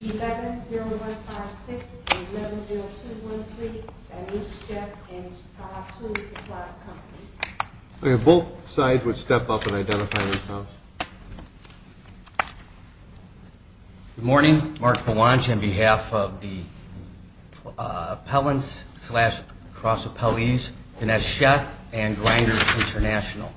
E-7-0-1-5-6 and 11-0-2-1-3, Dinesh Sheth and Sab Tool Supply Company. Both sides would step up and identify themselves. Good morning. Mark Belange on behalf of the appellants slash cross-appellees, Dinesh Sheth and Grinder International.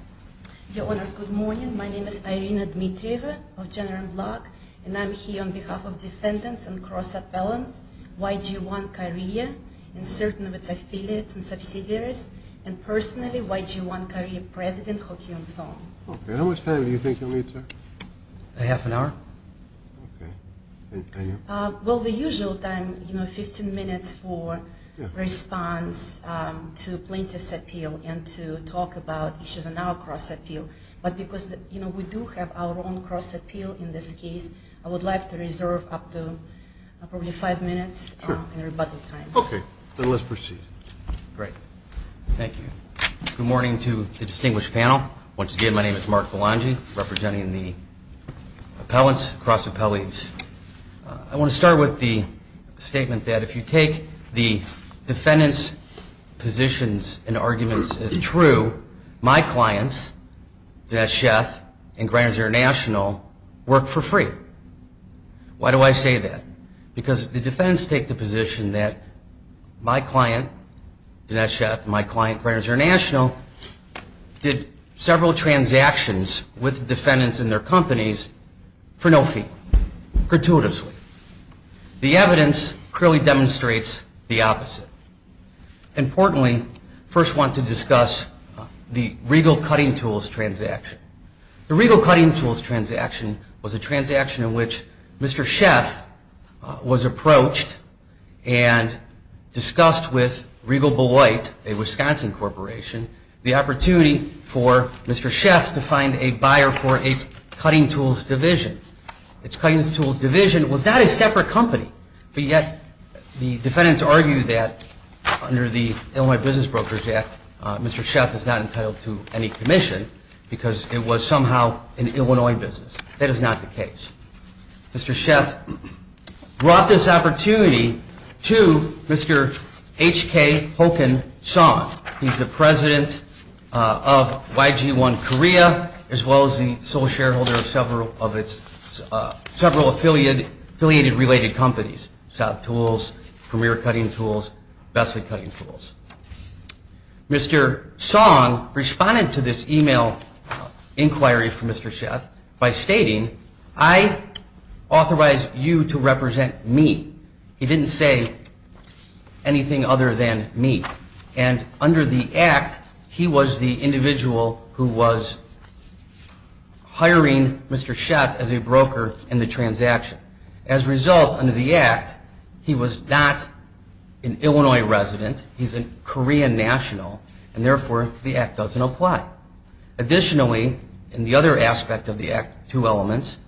Your Honors, good morning. My name is Irina Dmitrieva of Jenner and Block, and I'm here on behalf of defendants and cross-appellants, YG-1 Korea and certain of its affiliates and subsidiaries, and personally, YG-1 Korea President, Ho Kyung Song. How much time do you think you'll need, sir? A half an hour. Okay. And you? Well, the usual time, you know, 15 minutes for response to plaintiff's appeal and to talk about issues in our cross-appeal. But because, you know, we do have our own cross-appeal in this case, I would like to reserve up to probably five minutes in rebuttal time. Okay. Then let's proceed. Great. Thank you. Good morning to the distinguished panel. Once again, my name is Mark Belange representing the appellants, cross-appellees. I want to start with the statement that if you take the defendants' positions and arguments as true, my clients, Dinesh Sheth and Greiner's International, work for free. Why do I say that? Because the defendants take the position that my client, Dinesh Sheth, and my client, Greiner's International, did several transactions with the defendants and their companies for no fee, gratuitously. The evidence clearly demonstrates the opposite. Importantly, I first want to discuss the Regal Cutting Tools transaction. The Regal Cutting Tools transaction was a transaction in which Mr. Sheth was approached and discussed with Regal Belight, a Wisconsin corporation, the opportunity for Mr. Sheth to find a buyer for a cutting tools division. Its cutting tools division was not a separate company, but yet the defendants argue that under the Illinois Business Brokers Act, Mr. Sheth is not entitled to any commission because it was somehow an Illinois business. That is not the case. Mr. Sheth brought this opportunity to Mr. H.K. Hoken Song. He's the president of YG-1 Korea, as well as the sole shareholder of several affiliated related companies, South Tools, Premier Cutting Tools, Besley Cutting Tools. Mr. Song responded to this email inquiry from Mr. Sheth by stating, I authorize you to represent me. He didn't say anything other than me. And under the act, he was the individual who was hiring Mr. Sheth as a broker in the transaction. As a result, under the act, he was not an Illinois resident. He's a Korean national, and therefore, the act doesn't apply. Additionally, in the other aspect of the act, two elements,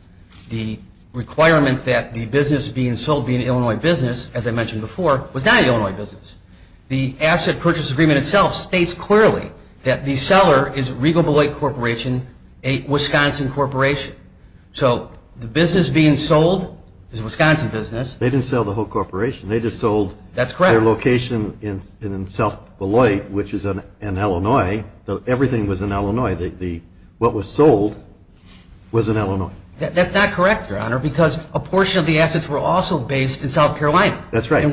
the requirement that the business being sold be an Illinois business, as I mentioned before, was not an Illinois business. The asset purchase agreement itself states clearly that the seller is Regal Beloit Corporation, a Wisconsin corporation. So the business being sold is a Wisconsin business. They didn't sell the whole corporation. They just sold their location in South Beloit, which is in Illinois. Everything was in Illinois. What was sold was in Illinois. That's not correct, Your Honor, because a portion of the assets were also based in South Carolina. That's right.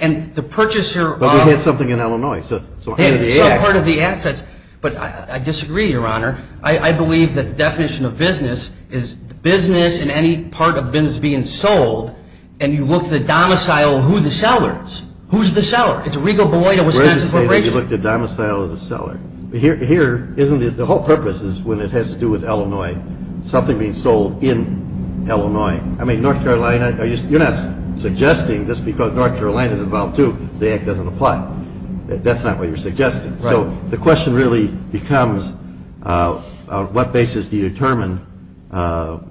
And the purchaser of But we had something in Illinois. Some part of the assets, but I disagree, Your Honor. I believe that the definition of business is business and any part of the business being sold, and you looked at the domicile of who the seller is. Who's the seller? It's a Regal Beloit, a Wisconsin corporation. We're going to say that you looked at the domicile of the seller. But here, isn't it, the whole purpose is when it has to do with Illinois, something being sold in Illinois. I mean, North Carolina, you're not suggesting this because North Carolina is involved, too. The act doesn't apply. That's not what you're suggesting. So the question really becomes on what basis do you determine the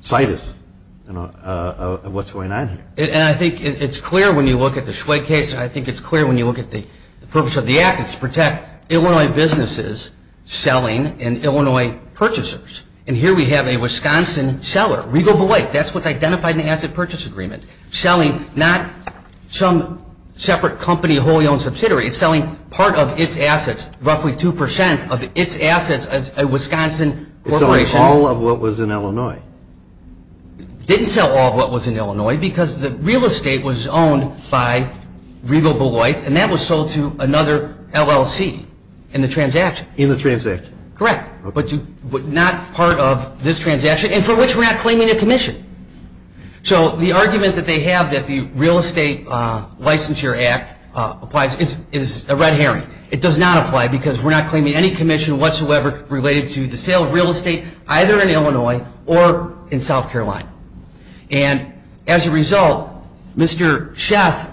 situs of what's going on here. And I think it's clear when you look at the Schwed case, and I think it's clear when you look at the purpose of the act. It's to protect Illinois businesses selling and Illinois purchasers. And here we have a Wisconsin seller, Regal Beloit. That's what's identified in the asset purchase agreement. It's selling not some separate company wholly owned subsidiary. It's selling part of its assets, roughly 2% of its assets as a Wisconsin corporation. It's selling all of what was in Illinois. It didn't sell all of what was in Illinois because the real estate was owned by Regal Beloit, and that was sold to another LLC in the transaction. In the transaction. Correct. But not part of this transaction, and for which we're not claiming a commission. So the argument that they have that the Real Estate Licensure Act applies is a red herring. It does not apply because we're not claiming any commission whatsoever related to the sale of real estate either in Illinois or in South Carolina. And as a result, Mr. Sheff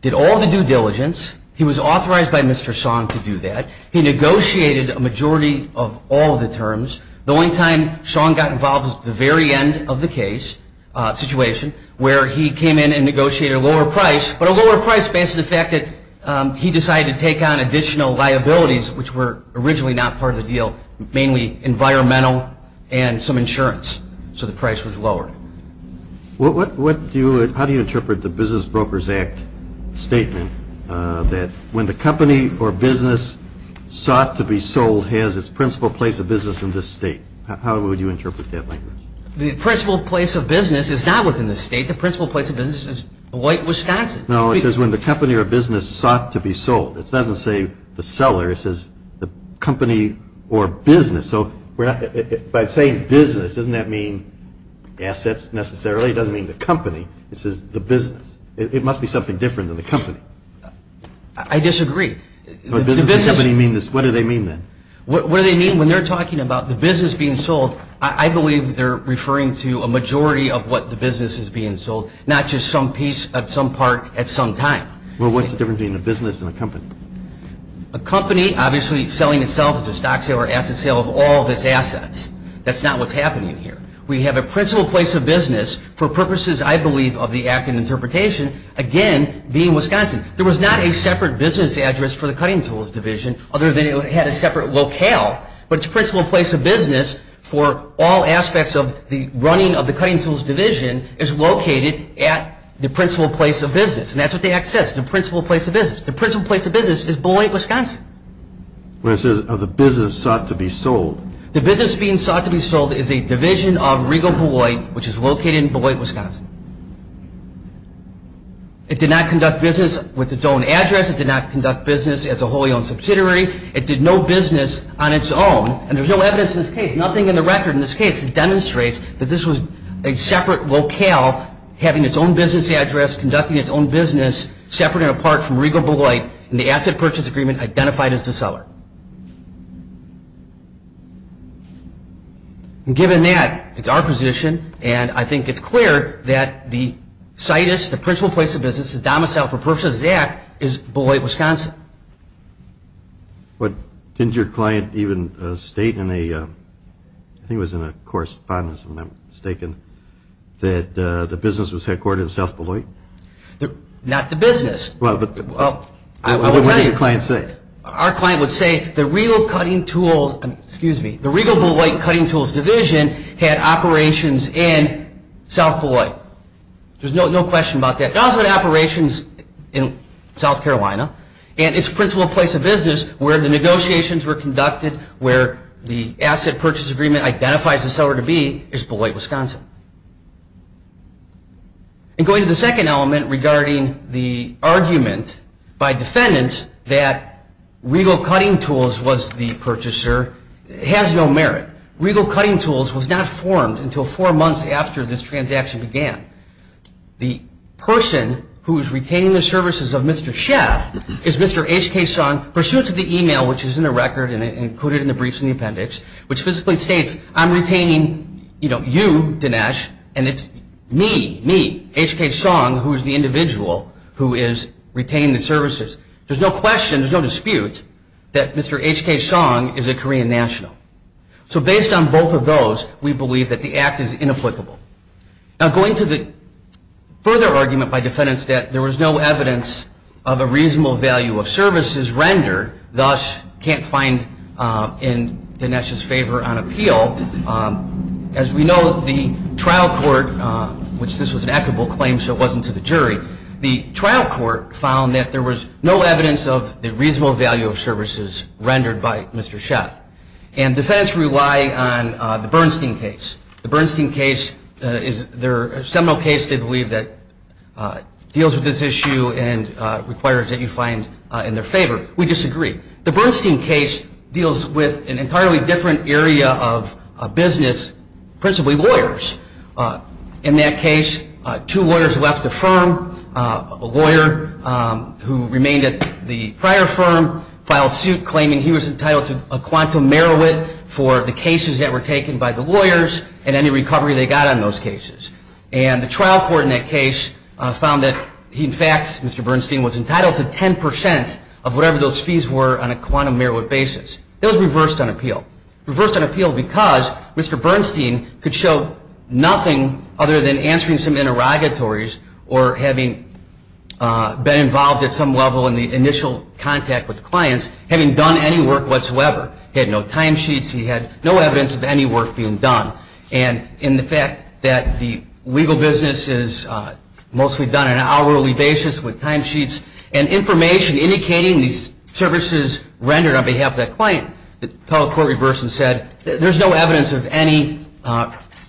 did all the due diligence. He was authorized by Mr. Song to do that. He negotiated a majority of all of the terms. The only time Song got involved was at the very end of the case situation where he came in and negotiated a lower price, but a lower price based on the fact that he decided to take on additional liabilities, which were originally not part of the deal, mainly environmental and some insurance. So the price was lowered. How do you interpret the Business Brokers Act statement that when the company or business sought to be sold has its principal place of business in this state? How would you interpret that language? The principal place of business is not within the state. The principal place of business is white Wisconsin. No, it says when the company or business sought to be sold. It doesn't say the seller. It says the company or business. So by saying business, doesn't that mean assets necessarily? It doesn't mean the company. It says the business. It must be something different than the company. I disagree. What do they mean then? What do they mean when they're talking about the business being sold? I believe they're referring to a majority of what the business is being sold, not just some piece at some part at some time. Well, what's the difference between a business and a company? A company obviously selling itself as a stock sale or asset sale of all of its assets. That's not what's happening here. We have a principal place of business for purposes, I believe, of the act in interpretation, again, being Wisconsin. There was not a separate business address for the cutting tools division other than it had a separate locale, but its principal place of business for all aspects of the running of the cutting tools division is located at the principal place of business. And that's what the act says, the principal place of business. The principal place of business is Beloit, Wisconsin. Well, it says the business sought to be sold. The business being sought to be sold is a division of Regal Beloit, which is located in Beloit, Wisconsin. It did not conduct business with its own address. It did not conduct business as a wholly owned subsidiary. It did no business on its own, and there's no evidence in this case, nothing in the record in this case that demonstrates that this was a separate locale having its own business address, conducting its own business, separate and apart from Regal Beloit, and the asset purchase agreement identified as the seller. Given that, it's our position, and I think it's clear that the CITUS, the principal place of business, the domicile for purposes of this act, is Beloit, Wisconsin. But didn't your client even state in a, I think it was in a correspondence, if I'm not mistaken, that the business was headquartered in South Beloit? Not the business. Well, what did your client say? Our client would say the Regal Beloit Cutting Tools Division had operations in South Beloit. There's no question about that. It also had operations in South Carolina, and its principal place of business where the negotiations were conducted, where the asset purchase agreement identifies the seller to be, is Beloit, Wisconsin. And going to the second element regarding the argument by defendants that Regal Cutting Tools was the purchaser has no merit. Regal Cutting Tools was not formed until four months after this transaction began. The person who is retaining the services of Mr. Schaff is Mr. H.K. Song, pursuant to the email which is in the record and included in the briefs in the appendix, which basically states, I'm retaining you, Dinesh, and it's me, me, H.K. Song, who is the individual who is retaining the services. There's no question, there's no dispute that Mr. H.K. Song is a Korean national. So based on both of those, we believe that the act is inapplicable. Now going to the further argument by defendants that there was no evidence of a reasonable value of services rendered, thus can't find in Dinesh's favor on appeal. As we know, the trial court, which this was an equitable claim so it wasn't to the jury, the trial court found that there was no evidence of the reasonable value of services rendered by Mr. Schaff. And defendants rely on the Bernstein case. The Bernstein case is their seminal case they believe that deals with this issue and requires that you find in their favor. We disagree. The Bernstein case deals with an entirely different area of business, principally lawyers. In that case, two lawyers left the firm. A lawyer who remained at the prior firm filed suit claiming he was entitled to a quantum merit for the cases that were taken by the lawyers and any recovery they got on those cases. And the trial court in that case found that he in fact, Mr. Bernstein, was entitled to 10% of whatever those fees were on a quantum merit basis. It was reversed on appeal. Reversed on appeal because Mr. Bernstein could show nothing other than answering some interrogatories or having been involved at some level in the initial contact with clients, having done any work whatsoever. He had no timesheets. He had no evidence of any work being done. And in the fact that the legal business is mostly done on an hourly basis with timesheets and information indicating these services rendered on behalf of that client, the appellate court reversed and said there's no evidence of any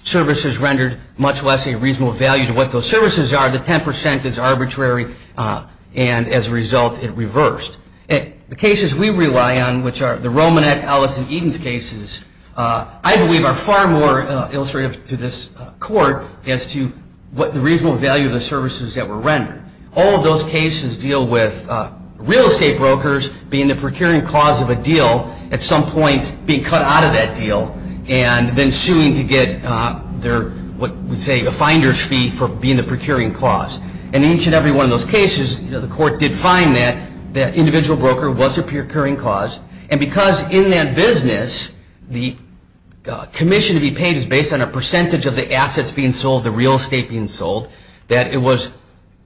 services rendered much less a reasonable value to what those services are. The 10% is arbitrary. And as a result, it reversed. The cases we rely on, which are the Romanet, Ellis, and Edens cases, I believe are far more illustrative to this court as to what the reasonable value of the services that were rendered. All of those cases deal with real estate brokers being the procuring cause of a deal at some point being cut out of that deal and then suing to get what we say a finder's fee for being the procuring cause. In each and every one of those cases, the court did find that that individual broker was the procuring cause. And because in that business the commission to be paid is based on a percentage of the assets being sold, the real estate being sold, that it was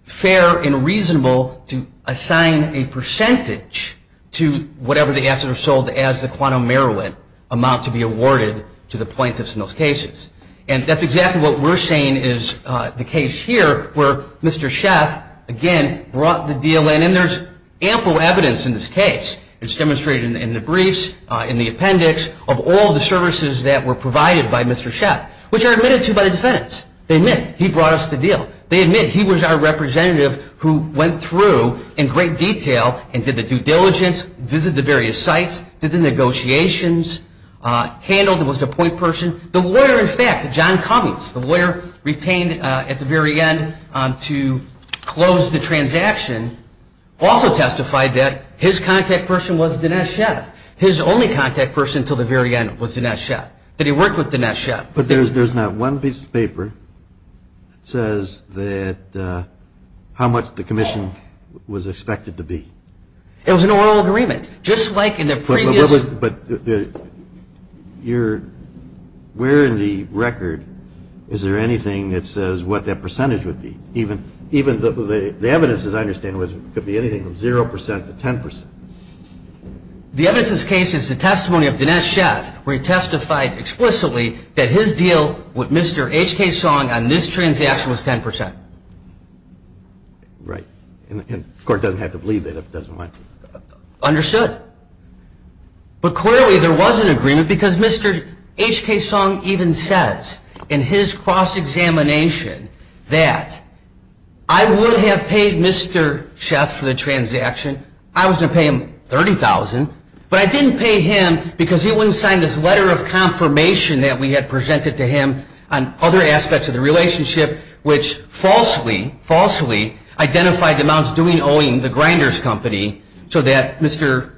fair and reasonable to assign a percentage to whatever the assets are sold as the quantum merit amount to be awarded to the plaintiffs in those cases. And that's exactly what we're saying is the case here where Mr. Sheff, again, brought the deal in. And there's ample evidence in this case. It's demonstrated in the briefs, in the appendix, of all the services that were provided by Mr. Sheff, which are admitted to by the defendants. They admit he brought us the deal. They admit he was our representative who went through in great detail and did the due diligence, visited the various sites, did the negotiations, handled and was the point person. The lawyer, in fact, John Cummings, the lawyer retained at the very end to close the transaction, also testified that his contact person was Dinesh Sheff. His only contact person until the very end was Dinesh Sheff, that he worked with Dinesh Sheff. But there's not one piece of paper that says how much the commission was expected to be. It was an oral agreement, just like in the previous. But where in the record is there anything that says what that percentage would be? Even the evidence, as I understand it, could be anything from 0% to 10%. The evidence in this case is the testimony of Dinesh Sheff, where he testified explicitly that his deal with Mr. H.K. Song on this transaction was 10%. Right. And the court doesn't have to believe that if it doesn't like it. Understood. But clearly there was an agreement because Mr. H.K. Song even says in his cross-examination that I would have paid Mr. Sheff for the transaction. I was going to pay him $30,000, but I didn't pay him because he wouldn't sign this letter of confirmation that we had presented to him on other aspects of the relationship, which falsely, falsely identified the amounts due and owing the Grinders Company so that Mr.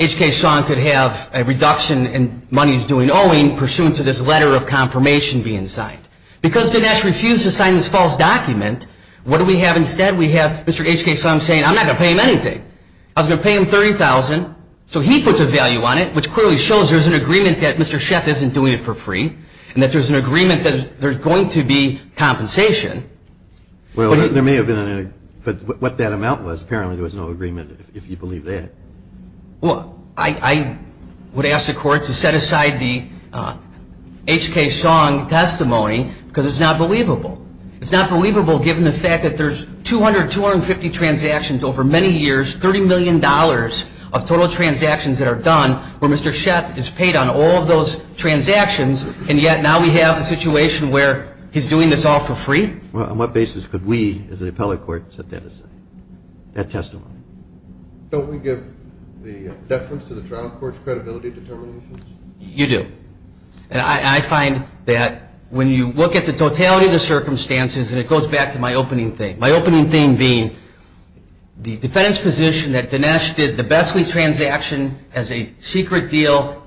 H.K. Song could have a reduction in monies due and owing pursuant to this letter of confirmation being signed. Because Dinesh refused to sign this false document, what do we have instead? We have Mr. H.K. Song saying I'm not going to pay him anything. I was going to pay him $30,000. So he puts a value on it, which clearly shows there's an agreement that Mr. Sheff isn't doing it for free and that there's an agreement that there's going to be compensation. Well, there may have been, but what that amount was, apparently there was no agreement if you believe that. Well, I would ask the Court to set aside the H.K. Song testimony because it's not believable. It's not believable given the fact that there's 200, 250 transactions over many years, $30 million of total transactions that are done where Mr. Sheff has paid on all of those transactions, and yet now we have a situation where he's doing this all for free? Well, on what basis could we as an appellate court set that aside, that testimony? Don't we give the deference to the trial court's credibility determinations? You do. And I find that when you look at the totality of the circumstances, and it goes back to my opening thing, my opening thing being the defendant's position that Dinesh did the Bessley transaction as a secret deal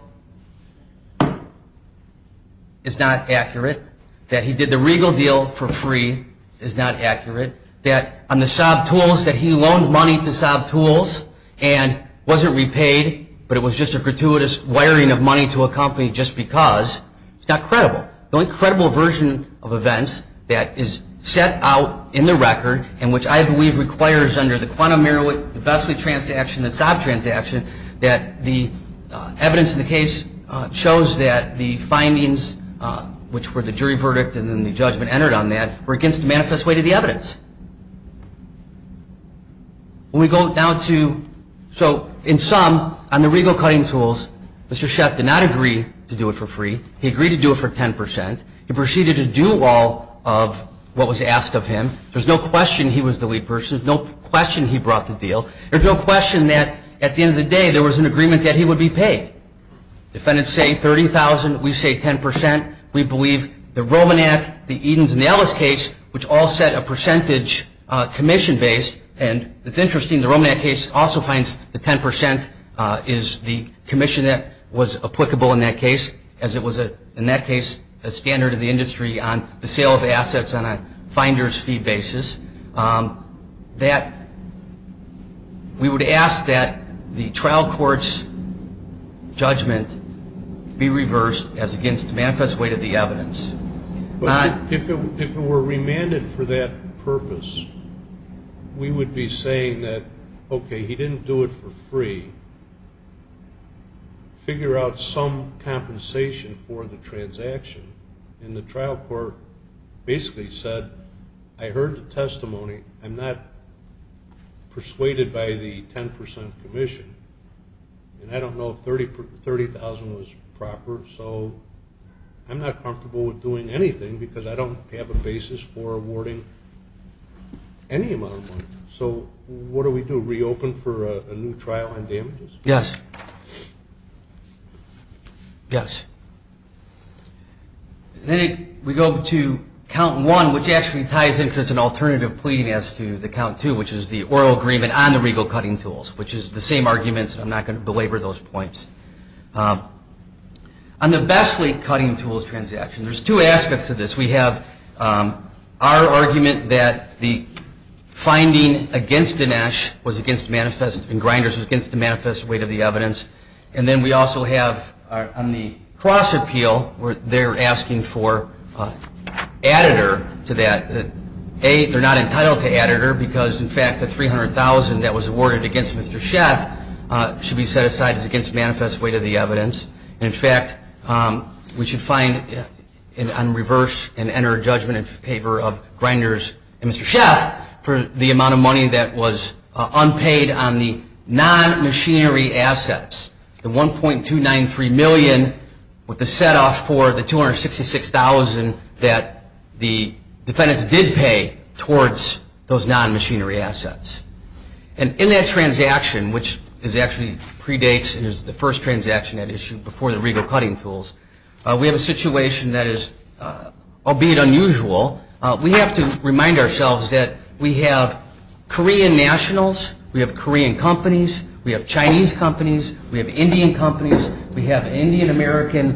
is not accurate, that he did the Regal deal for free is not accurate, that on the Saab tools that he loaned money to Saab tools and wasn't repaid, but it was just a gratuitous wiring of money to a company just because, it's not credible. The only credible version of events that is set out in the record, and which I believe requires under the quantum merit, the Bessley transaction, the Saab transaction, that the evidence in the case shows that the findings, which were the jury verdict and then the judgment entered on that, were against the manifest way to the evidence. When we go down to, so in sum, on the Regal cutting tools, Mr. Sheth did not agree to do it for free. He agreed to do it for 10%. He proceeded to do all of what was asked of him. There's no question he was the lead person. There's no question he brought the deal. There's no question that at the end of the day there was an agreement that he would be paid. Defendants say $30,000. We say 10%. We believe the Romanak, the Edens and Ellis case, which all set a percentage commission-based, and it's interesting, the Romanak case also finds the 10% is the commission that was applicable in that case, as it was, in that case, a standard of the industry on the sale of assets on a finder's fee basis. That we would ask that the trial court's judgment be reversed as against the manifest way to the evidence. If it were remanded for that purpose, we would be saying that, okay, he didn't do it for free. Figure out some compensation for the transaction. And the trial court basically said, I heard the testimony. I'm not persuaded by the 10% commission, and I don't know if $30,000 was proper, so I'm not comfortable with doing anything because I don't have a basis for awarding any amount of money. So what do we do, reopen for a new trial on damages? Yes. Yes. Then we go to count one, which actually ties in because it's an alternative pleading as to the count two, which is the oral agreement on the regal cutting tools, which is the same arguments. I'm not going to belabor those points. On the best way cutting tools transaction, there's two aspects to this. We have our argument that the finding against Dinesh was against manifest, and Grinders was against the manifest weight of the evidence. And then we also have on the cross appeal, they're asking for additor to that. A, they're not entitled to additor because, in fact, the $300,000 that was awarded against Mr. Schaaf should be set aside as against manifest weight of the evidence. And, in fact, we should find and reverse and enter judgment in favor of Grinders and Mr. Schaaf for the amount of money that was unpaid on the non-machinery assets, the $1.293 million with the set off for the $266,000 that the defendants did pay towards those non-machinery assets. And in that transaction, which actually predates and is the first transaction at issue before the regal cutting tools, we have a situation that is, albeit unusual, we have to remind ourselves that we have Korean nationals, we have Korean companies, we have Chinese companies, we have Indian companies, we have Indian American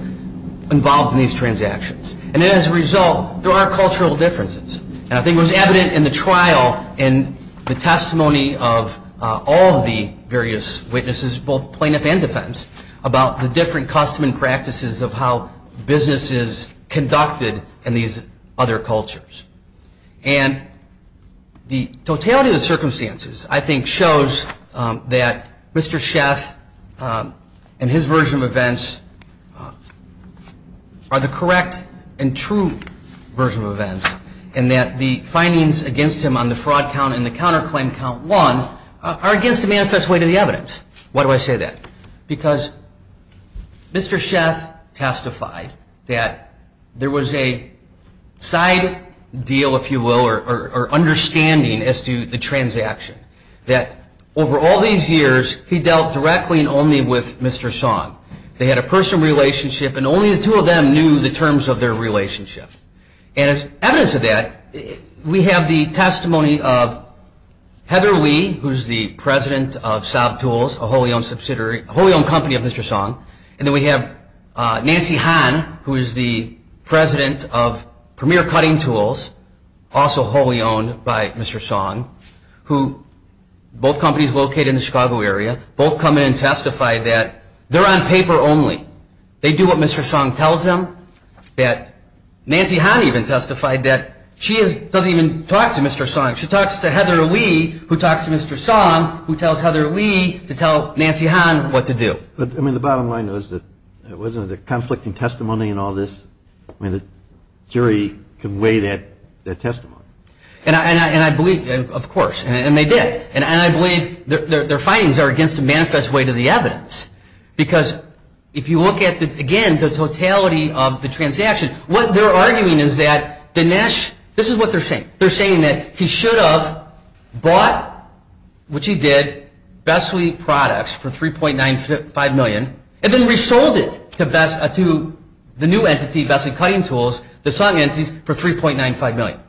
involved in these transactions. And as a result, there are cultural differences. And I think it was evident in the trial and the testimony of all of the various witnesses, both plaintiff and defense, about the different custom and practices of how business is conducted in these other cultures. And the totality of the circumstances, I think, shows that Mr. Schaaf and his version of events are the correct and true version of events, and that the findings against him on the fraud count and the counterclaim count one are against the manifest weight of the evidence. Why do I say that? Because Mr. Schaaf testified that there was a side deal, if you will, or understanding as to the transaction. That over all these years, he dealt directly and only with Mr. Song. They had a personal relationship, and only the two of them knew the terms of their relationship. And as evidence of that, we have the testimony of Heather Lee, who is the president of Sob Tools, a wholly owned company of Mr. Song. And then we have Nancy Han, who is the president of Premier Cutting Tools, also wholly owned by Mr. Song, who both companies located in the Chicago area, both come in and testify that they're on paper only. They do what Mr. Song tells them. Nancy Han even testified that she doesn't even talk to Mr. Song. She talks to Heather Lee, who talks to Mr. Song, who tells Heather Lee to tell Nancy Han what to do. But, I mean, the bottom line is that it wasn't a conflicting testimony in all this. I mean, the jury conveyed that testimony. And I believe, of course, and they did. And I believe their findings are against the manifest weight of the evidence, because if you look at, again, the totality of the transaction, what they're arguing is that Dinesh, this is what they're saying. They're saying that he should have bought, which he did, Bessley products for $3.95 million and then resold it to the new entity, Bessley Cutting Tools, the Song entities, for $3.95 million.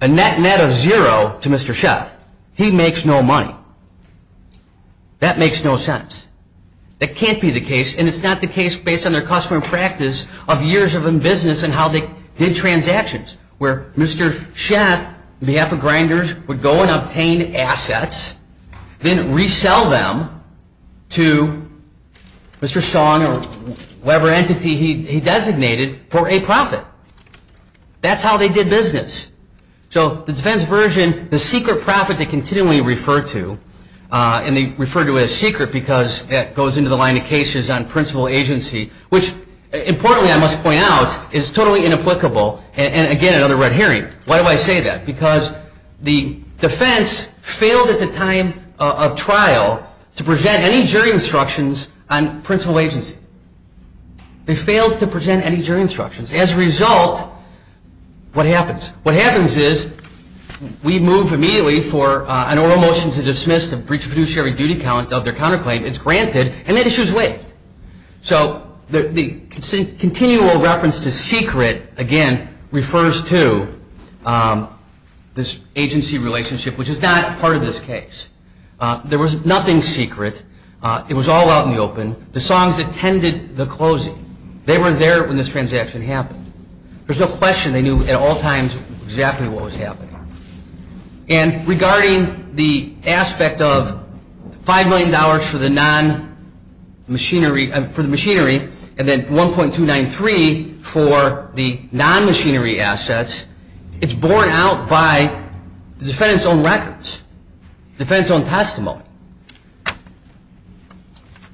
A net net of zero to Mr. Sheff. He makes no money. That makes no sense. That can't be the case, and it's not the case based on their customer practice of years of business and how they did transactions, where Mr. Sheff, on behalf of Grinders, would go and obtain assets, then resell them to Mr. Song or whatever entity he designated for a profit. That's how they did business. So the defense version, the secret profit they continually refer to, and they refer to it as secret because that goes into the line of cases on principal agency, which, importantly I must point out, is totally inapplicable, and again, another red herring. Why do I say that? Because the defense failed at the time of trial to present any jury instructions on principal agency. They failed to present any jury instructions. As a result, what happens? What happens is we move immediately for an oral motion to dismiss the breach of fiduciary duty count of their counterclaim. It's granted, and that issue is waived. So the continual reference to secret, again, refers to this agency relationship, which is not part of this case. There was nothing secret. It was all out in the open. The Songs attended the closing. They were there when this transaction happened. There's no question they knew at all times exactly what was happening. And regarding the aspect of $5 million for the non-machinery, for the machinery, and then $1.293 for the non-machinery assets, it's borne out by the defendant's own records, defendant's own testimony.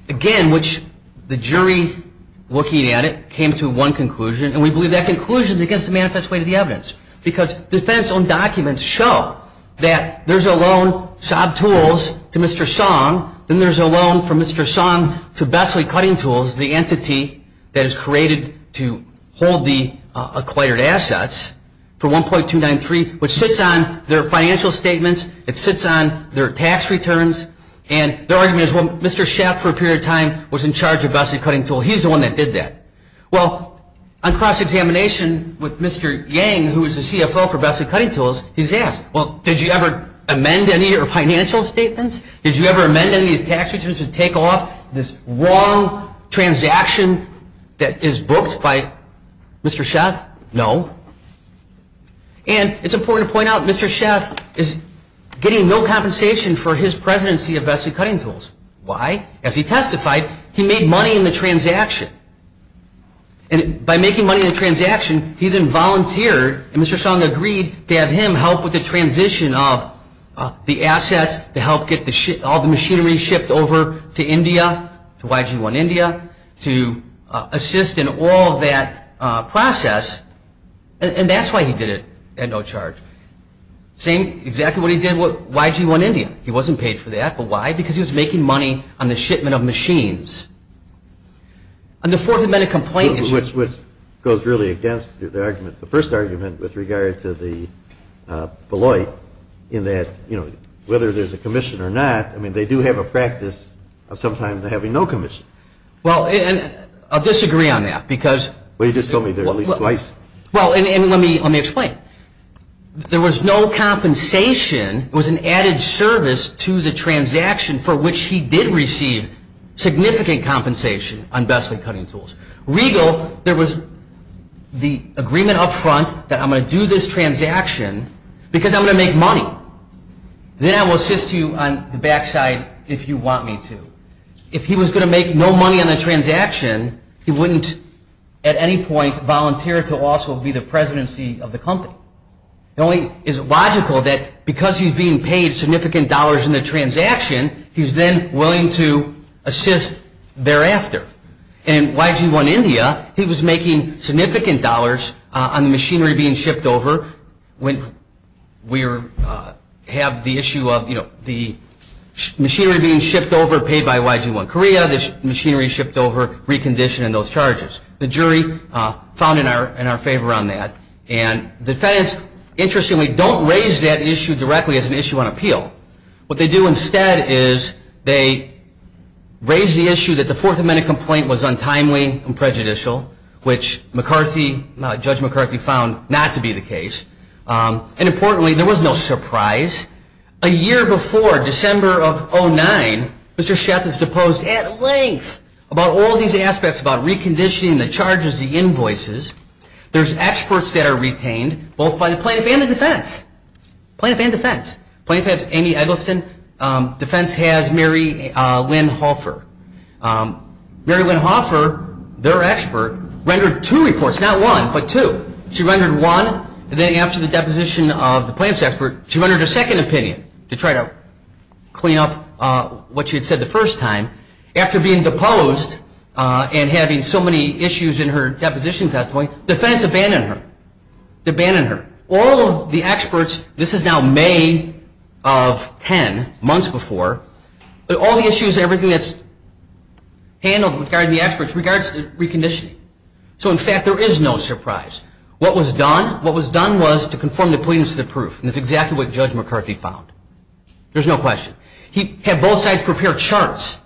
Again, which the jury, looking at it, came to one conclusion, and we believe that conclusion is against the manifest way of the evidence. Because the defendant's own documents show that there's a loan, SOB tools, to Mr. Song. Then there's a loan from Mr. Song to Bessley Cutting Tools, the entity that is created to hold the acquired assets for $1.293, which sits on their financial statements. It sits on their tax returns. And their argument is, well, Mr. Schaaf for a period of time was in charge of Bessley Cutting Tools. He's the one that did that. Well, on cross-examination with Mr. Yang, who is the CFO for Bessley Cutting Tools, he's asked, well, did you ever amend any of your financial statements? Did you ever amend any of these tax returns to take off this wrong transaction that is booked by Mr. Schaaf? No. And it's important to point out, Mr. Schaaf is getting no compensation for his presidency of Bessley Cutting Tools. Why? As he testified, he made money in the transaction. And by making money in the transaction, he then volunteered, and Mr. Song agreed to have him help with the transition of the assets to help get all the machinery shipped over to India, to YG-1 India, to assist in all of that process. And that's why he did it at no charge. Same, exactly what he did with YG-1 India. He wasn't paid for that. But why? Because he was making money on the shipment of machines. And the fourth amendment complaint issue. Which goes really against the argument, the first argument with regard to the Beloit, in that, you know, whether there's a commission or not, I mean, they do have a practice of sometimes having no commission. Well, and I'll disagree on that, because. Well, you just told me there are at least twice. Well, and let me explain. There was no compensation, it was an added service to the transaction for which he did receive significant compensation on Bessley Cutting Tools. Regal, there was the agreement up front that I'm going to do this transaction because I'm going to make money. Then I will assist you on the backside if you want me to. If he was going to make no money on the transaction, he wouldn't at any point volunteer to also be the presidency of the company. It only is logical that because he's being paid significant dollars in the transaction, he's then willing to assist thereafter. And in YG-1 India, he was making significant dollars on the machinery being shipped over when we have the issue of, you know, the machinery being shipped over, paid by YG-1 Korea, the machinery shipped over, recondition, and those charges. The jury found in our favor on that. And the defendants, interestingly, don't raise that issue directly as an issue on appeal. What they do instead is they raise the issue that the Fourth Amendment complaint was untimely and prejudicial, which Judge McCarthy found not to be the case. And importantly, there was no surprise. A year before, December of 2009, Mr. Schaff has deposed at length about all these aspects, about reconditioning, the charges, the invoices. There's experts that are retained both by the plaintiff and the defense. Plaintiff and defense. Plaintiff has Amy Eggleston. Defense has Mary Lynn Hoffer. Mary Lynn Hoffer, their expert, rendered two reports. Not one, but two. She rendered one, and then after the deposition of the plaintiff's expert, she rendered a second opinion to try to clean up what she had said the first time. After being deposed and having so many issues in her deposition testimony, the defendants abandoned her. Abandoned her. All of the experts, this is now May of 10, months before, but all the issues, everything that's handled regarding the experts, regards to reconditioning. So, in fact, there is no surprise. What was done? What was done was to conform the plaintiff to the proof, and that's exactly what Judge McCarthy found. There's no question. He had both sides prepare charts.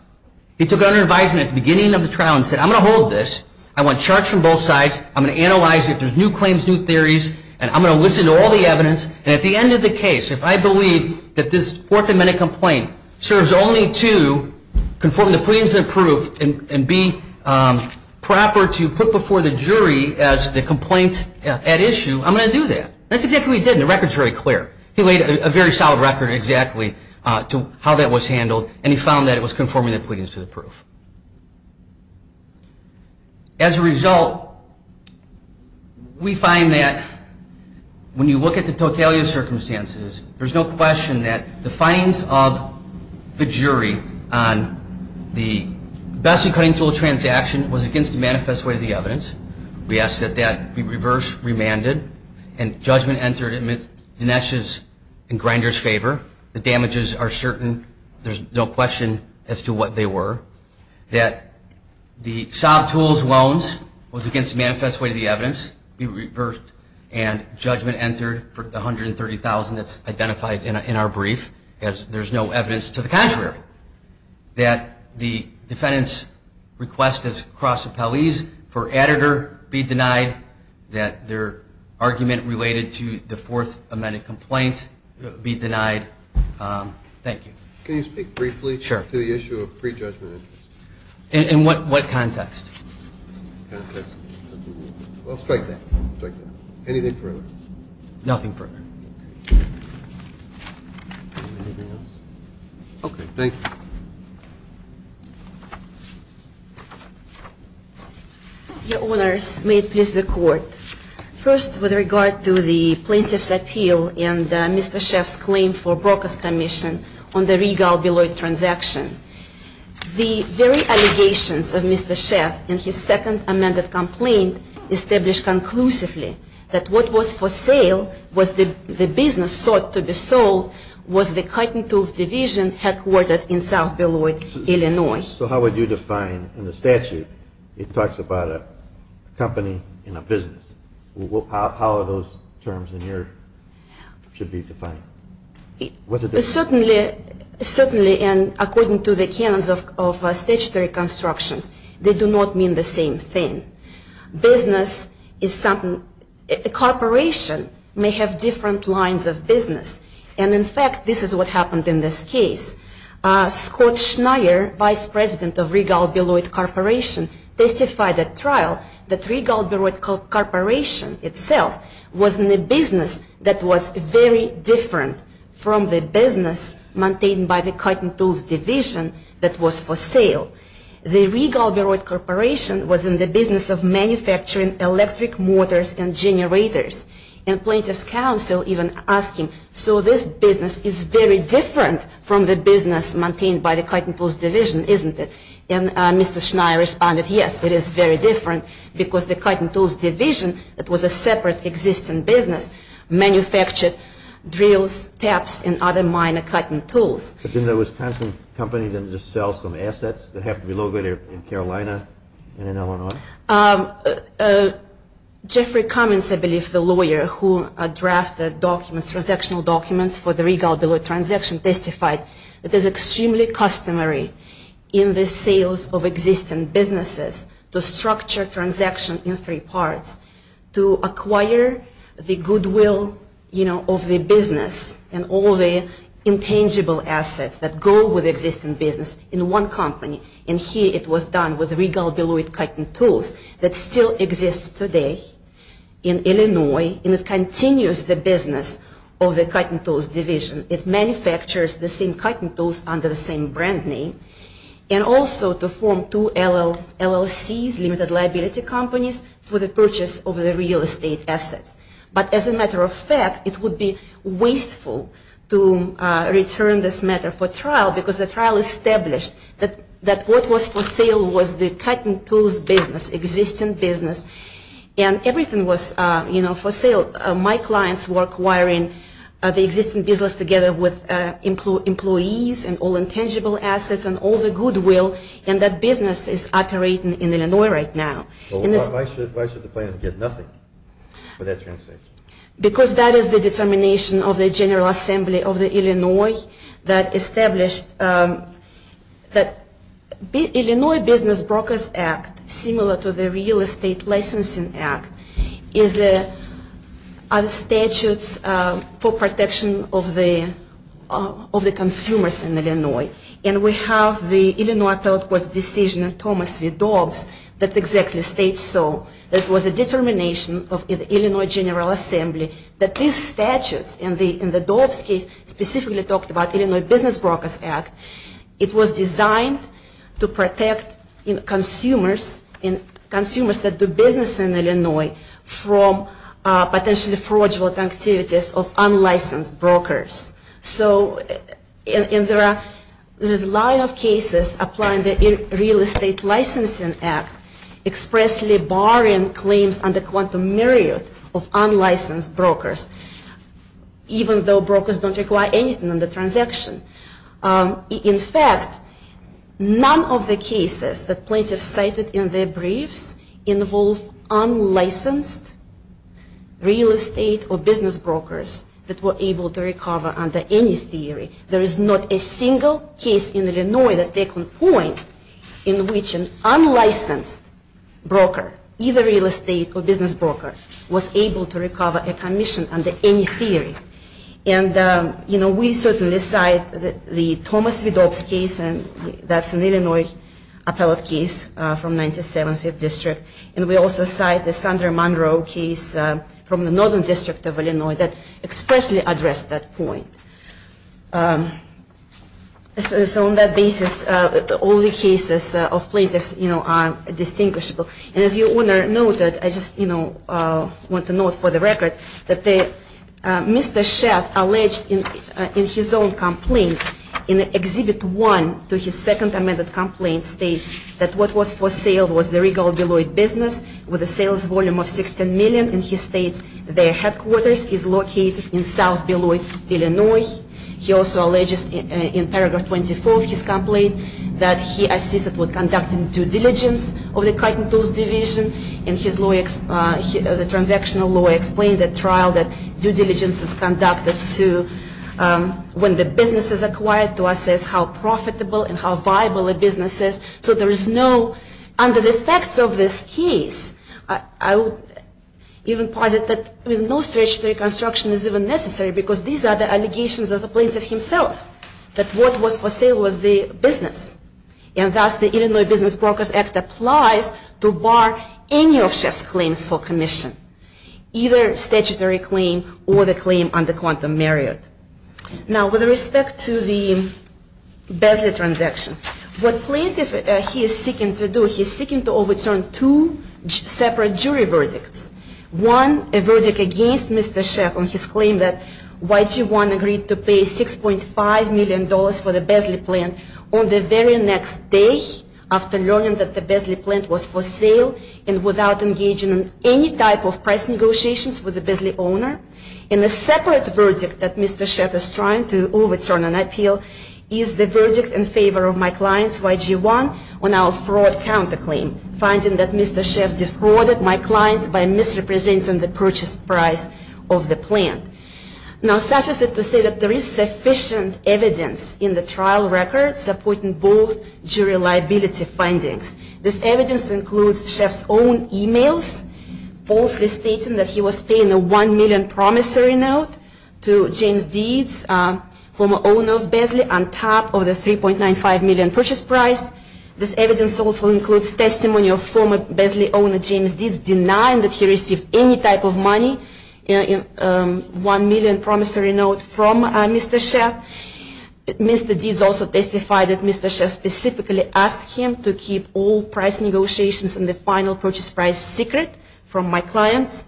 He took out an advisement at the beginning of the trial and said, I'm going to hold this. I want charts from both sides. I'm going to analyze it. If there's new claims, new theories, and I'm going to listen to all the evidence. And at the end of the case, if I believe that this fourth amendment complaint serves only to conform the pleadings to the proof and be proper to put before the jury as the complaint at issue, I'm going to do that. That's exactly what he did, and the record's very clear. He laid a very solid record exactly to how that was handled, and he found that it was conforming the pleadings to the proof. As a result, we find that when you look at the totality of circumstances, there's no question that the findings of the jury on the best-in-cutting tool transaction was against the manifest weight of the evidence. We ask that that be reverse remanded, and judgment entered in Dinesh's and Grinder's favor. The damages are certain. There's no question as to what they were. That the sob tools loans was against the manifest weight of the evidence, be reversed, and judgment entered for the $130,000 that's identified in our brief, as there's no evidence to the contrary. That the defendant's request as cross appellees for editor be denied. That their argument related to the fourth amendment complaint be denied. Thank you. Can you speak briefly to the issue of prejudgment? In what context? I'll strike that. Anything further? Nothing further. Anything else? Okay. Thank you. Your Honors, may it please the Court. First, with regard to the plaintiff's appeal and Mr. Sheff's claim for Broca's commission on the Regal-Beloit transaction, the very allegations of Mr. Sheff in his second amended complaint established conclusively that what was for sale was the business sought to be sold was the cutting tools division headquartered in South Beloit, Illinois. So how would you define in the statute, it talks about a company in a business. How are those terms in here should be defined? Certainly, and according to the canons of statutory constructions, they do not mean the same thing. Business is something, a corporation may have different lines of business. And in fact, this is what happened in this case. Scott Schneier, Vice President of Regal-Beloit Corporation testified at trial that Regal-Beloit Corporation itself was in a business that was very different from the business maintained by the cutting tools division that was for sale. The Regal-Beloit Corporation was in the business of manufacturing electric motors and generators. And plaintiff's counsel even asked him, so this business is very different from the business maintained by the cutting tools division, isn't it? And Mr. Schneier responded, yes, it is very different because the cutting tools division, it was a separate existing business, manufactured drills, taps, and other minor cutting tools. But didn't the Wisconsin company then just sell some assets that happened to be located in Carolina and in Illinois? Jeffrey Cummings, I believe, the lawyer who drafted the documents, transactional documents for the Regal-Beloit transaction testified that it is extremely customary in the sales of existing businesses to structure a transaction in three parts to acquire the goodwill, you know, of the business and all the intangible assets that go with existing business in one company. And here it was done with Regal-Beloit cutting tools that still exists today in Illinois and it continues the business of the cutting tools division. It manufactures the same cutting tools under the same brand name and also to form two LLCs, limited liability companies, for the purchase of the real estate assets. But as a matter of fact, it would be wasteful to return this matter for trial because the trial established that what was for sale was the cutting tools business, existing business, and everything was, you know, for sale. My clients work wiring the existing business together with employees and all intangible assets and all the goodwill, and that business is operating in Illinois right now. Well, why should the plaintiff get nothing for that transaction? Because that is the determination of the General Assembly of Illinois that established that Illinois Business Brokers Act, similar to the Real Estate Licensing Act, is a statute for protection of the consumers in Illinois. And we have the Illinois Appellate Court's decision in Thomas v. Dobbs that exactly states so. It was a determination of the Illinois General Assembly that these statutes, and the Dobbs case specifically talked about Illinois Business Brokers Act, it was designed to protect consumers that do business in Illinois from potentially fraudulent activities of unlicensed brokers. So there's a lot of cases applying the Real Estate Licensing Act expressly barring claims under quantum myriad of unlicensed brokers, even though brokers don't require anything on the transaction. In fact, none of the cases that plaintiffs cited in their briefs involve unlicensed real estate or business brokers that were able to recover under any theory. There is not a single case in Illinois that they can point in which an unlicensed broker, either real estate or business broker, was able to recover a commission under any theory. And we certainly cite the Thomas v. Dobbs case, and that's an Illinois appellate case from 97th District. And we also cite the Sandra Monroe case from the Northern District of Illinois that expressly addressed that point. So on that basis, all the cases of plaintiffs are distinguishable. And as your Honor noted, I just want to note for the record that Mr. Schaaf alleged in his own complaint in Exhibit 1 to his second amended complaint states that what was for sale was the Regal Deloitte business with a sales volume of $16 million. And he states their headquarters is located in South Deloitte, Illinois. He also alleges in Paragraph 24 of his complaint that he assisted with conducting due diligence of the cutting tools division. And the transactional lawyer explained the trial that due diligence is conducted when the business is acquired to assess how profitable and how viable a business is. So there is no, under the facts of this case, I would even posit that no statutory construction is even necessary because these are the allegations of the plaintiff himself, that what was for sale was the business. And thus, the Illinois Business Brokers Act applies to bar any of Schaaf's claims for commission, either statutory claim or the claim under quantum merit. Now, with respect to the Bezley transaction, what plaintiff, he is seeking to do, he is seeking to overturn two separate jury verdicts. One, a verdict against Mr. Schaaf on his claim that YG-1 agreed to pay $6.5 million for the Bezley plant on the very next day after learning that the Bezley plant was for sale and without engaging in any type of price negotiations with the Bezley owner. And a separate verdict that Mr. Schaaf is trying to overturn an appeal is the verdict in favor of my clients, YG-1, on our fraud counterclaim, finding that Mr. Schaaf defrauded my clients by misrepresenting the purchase price of the plant. Now, suffice it to say that there is sufficient evidence in the trial record supporting both jury liability findings. This evidence includes Schaaf's own emails falsely stating that he was paying a $1 million promissory note to James Deeds, former owner of Bezley, on top of the $3.95 million purchase price. This evidence also includes testimony of former Bezley owner James Deeds denying that he received any type of money in a $1 million promissory note from Mr. Schaaf. Mr. Deeds also testified that Mr. Schaaf specifically asked him to keep all price negotiations and the final purchase price secret from my clients.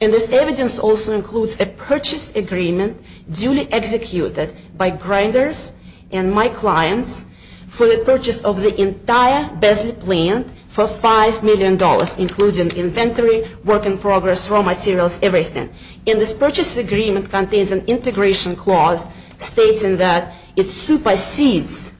And this evidence also includes a purchase agreement duly executed by Grinders and my clients for the purchase of the entire Bezley plant for $5 million, including inventory, work in progress, raw materials, everything. And this purchase agreement contains an integration clause stating that it supersedes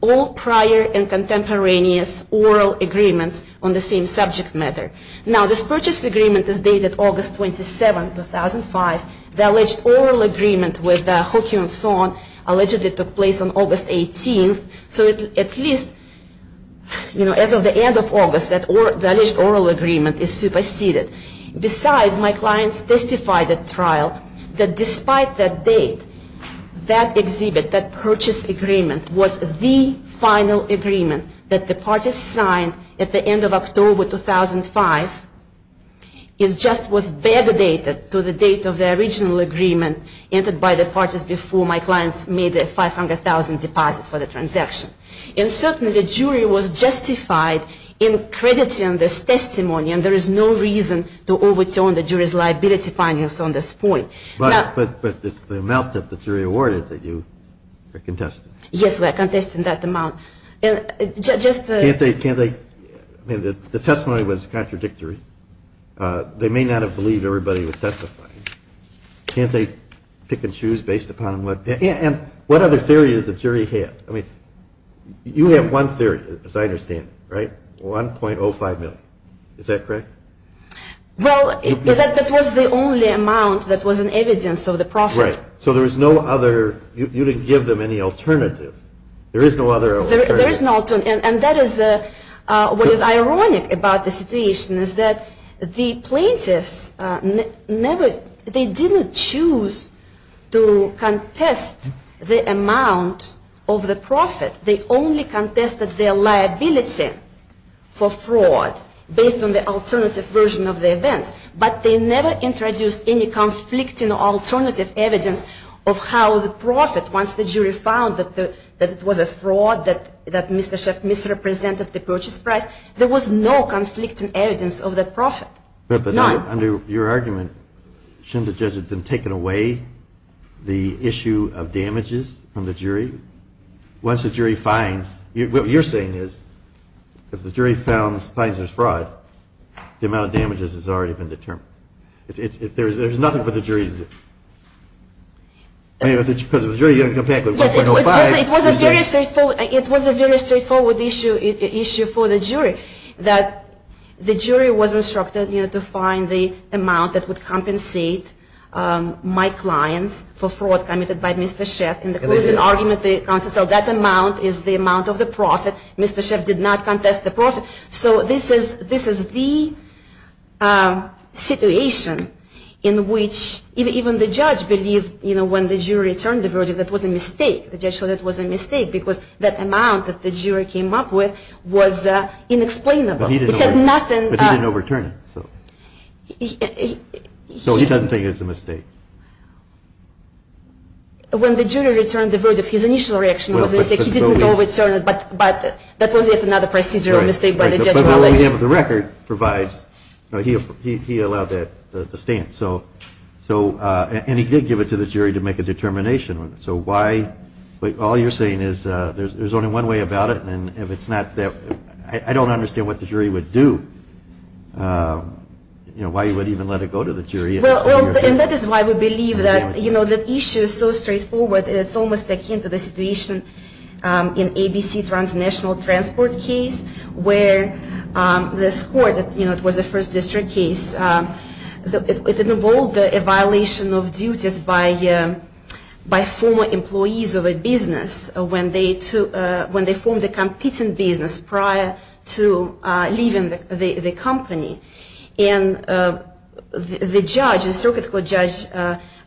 all prior and contemporaneous oral agreements on the same subject matter. Now, this purchase agreement is dated August 27, 2005. The alleged oral agreement with Hoki and so on allegedly took place on August 18. So at least, you know, as of the end of August, the alleged oral agreement is superseded. Besides, my clients testified at trial that despite that date, that exhibit, that purchase agreement was the final agreement that the parties signed at the end of October 2005. It just was better dated to the date of the original agreement entered by the parties before my clients made the $500,000 deposit for the transaction. And certainly, the jury was justified in crediting this testimony, and there is no reason to overturn the jury's liability findings on this point. But it's the amount that the jury awarded that you are contesting. Yes, we are contesting that amount. Can't they, can't they? I mean, the testimony was contradictory. They may not have believed everybody was testifying. Can't they pick and choose based upon what? And what other theory did the jury have? I mean, you have one theory, as I understand it, right? $1.05 million. Is that correct? Well, that was the only amount that was an evidence of the profit. Right. So there was no other. You didn't give them any alternative. There is no other alternative. There is no alternative. And that is what is ironic about the situation is that the plaintiffs never, they didn't choose to contest the amount of the profit. They only contested their liability for fraud based on the alternative version of the events. But they never introduced any conflicting alternative evidence of how the profit, once the jury found that it was a fraud, that Mr. Sheff misrepresented the purchase price, there was no conflicting evidence of that profit. None. But under your argument, shouldn't the judge have then taken away the issue of damages from the jury? Once the jury finds, what you're saying is, if the jury finds there's fraud, the amount of damages has already been determined. There's nothing for the jury to do. It was a very straightforward issue for the jury. The jury was instructed to find the amount that would compensate my clients for fraud committed by Mr. Sheff. In the closing argument, the counsel said that amount is the amount of the profit. Mr. Sheff did not contest the profit. So this is the situation in which even the judge believed when the jury returned the verdict that was a mistake. The judge thought it was a mistake because that amount that the jury came up with was inexplainable. But he didn't overturn it. So he doesn't think it's a mistake. When the jury returned the verdict, his initial reaction was that he didn't overturn it, but that was yet another procedural mistake by the judge. But what we have in the record provides, he allowed that stance. And he did give it to the jury to make a determination. So why, all you're saying is there's only one way about it, and if it's not that, I don't understand what the jury would do, you know, why you would even let it go to the jury. And that is why we believe that, you know, the issue is so straightforward, and it's almost akin to the situation in ABC transnational transport case, where this court, you know, it was a first district case. It involved a violation of duties by former employees of a business when they formed a competing business prior to leaving the company. And the judge, the circuit court judge,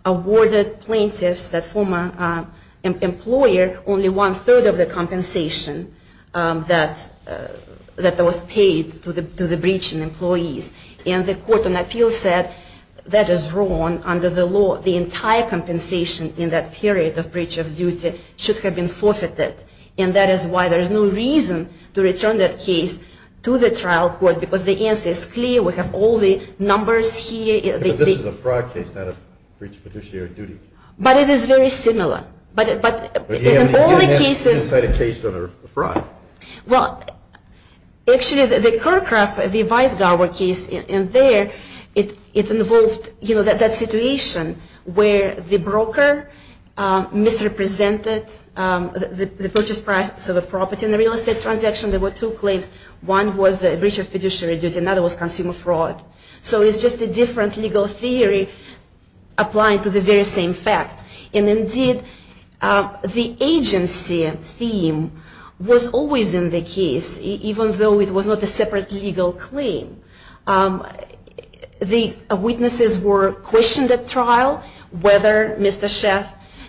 awarded plaintiffs, that former employer, only one third of the compensation that was paid to the breaching employees. And the court on appeal said that is wrong. Under the law, the entire compensation in that period of breach of duty should have been forfeited. And that is why there is no reason to return that case to the trial court, because the answer is clear. We have all the numbers here. But this is a fraud case, not a breach of fiduciary duty. But it is very similar. But in all the cases. But you didn't cite a case that are fraud. Well, actually, the Kirkcraft v. Weisgauer case in there, it involved, you know, that situation where the broker misrepresented the purchase price of a property in a real estate transaction. There were two claims. One was the breach of fiduciary duty. Another was consumer fraud. So it's just a different legal theory applying to the very same fact. And indeed, the agency theme was always in the case, even though it was not a separate legal claim. The witnesses were questioned at trial whether Mr. Sheff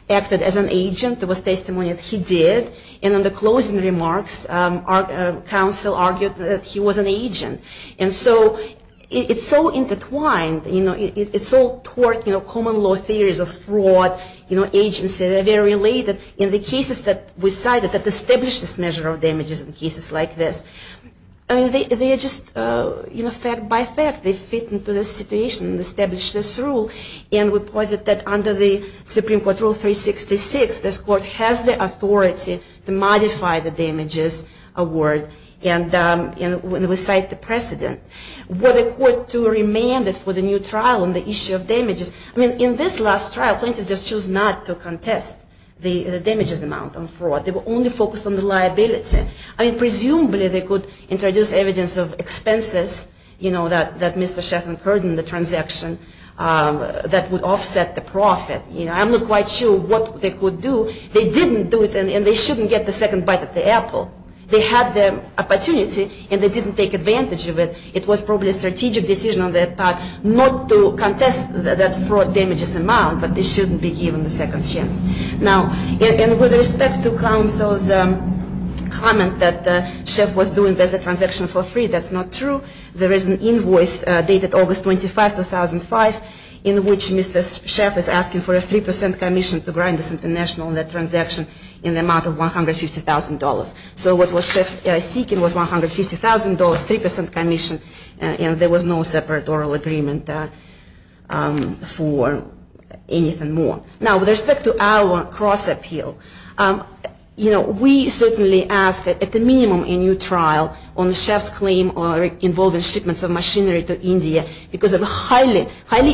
acted as an agent. There was testimony that he did. And in the closing remarks, counsel argued that he was an agent. And so it's so intertwined. You know, it's all toward, you know, common law theories of fraud, you know, agency. They're very related in the cases that we cited that establish this measure of damages in cases like this. I mean, they are just, you know, fact by fact, they fit into this situation and establish this rule. And we posit that under the Supreme Court rule 366, this court has the authority to modify the damages award when we cite the precedent. Were the court to remand it for the new trial on the issue of damages? I mean, in this last trial, plaintiffs just chose not to contest the damages amount on fraud. They were only focused on the liability. I mean, presumably they could introduce evidence of expenses, you know, that Mr. Sheff incurred in the transaction that would offset the profit. You know, I'm not quite sure what they could do. They didn't do it, and they shouldn't get the second bite of the apple. They had the opportunity, and they didn't take advantage of it. It was probably a strategic decision on their part not to contest that fraud damages amount, but they shouldn't be given the second chance. Now, and with respect to counsel's comment that Sheff was doing better transaction for free, that's not true. There is an invoice dated August 25, 2005, in which Mr. Sheff is asking for a 3% commission to grind this international transaction in the amount of $150,000. So what was Sheff seeking was $150,000, 3% commission, and there was no separate oral agreement for anything more. Now, with respect to our cross-appeal, you know, we certainly ask at the minimum a new trial on Sheff's claim involving shipments of machinery to India because of a highly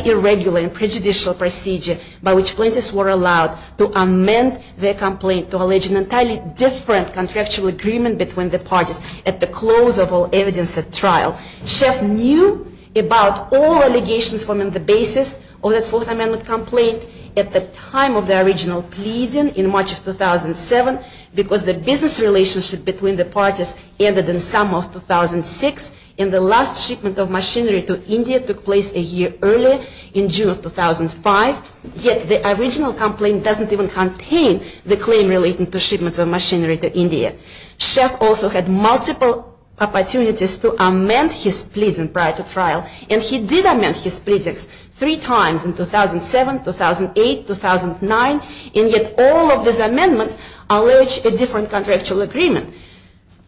irregular and prejudicial procedure by which plaintiffs were allowed to amend their complaint to allege an entirely different contractual agreement between the parties at the close of all evidence at trial. Sheff knew about all allegations from the basis of that Fourth Amendment complaint at the time of the original pleading in March of 2007 because the business relationship between the parties ended in summer of 2006, and the last shipment of machinery to India took place a year earlier in June of 2005. Yet the original complaint doesn't even contain the claim relating to shipments of machinery to India. Sheff also had multiple opportunities to amend his pleading prior to trial, and he did amend his pleadings three times in 2007, 2008, 2009, and yet all of these amendments allege a different contractual agreement.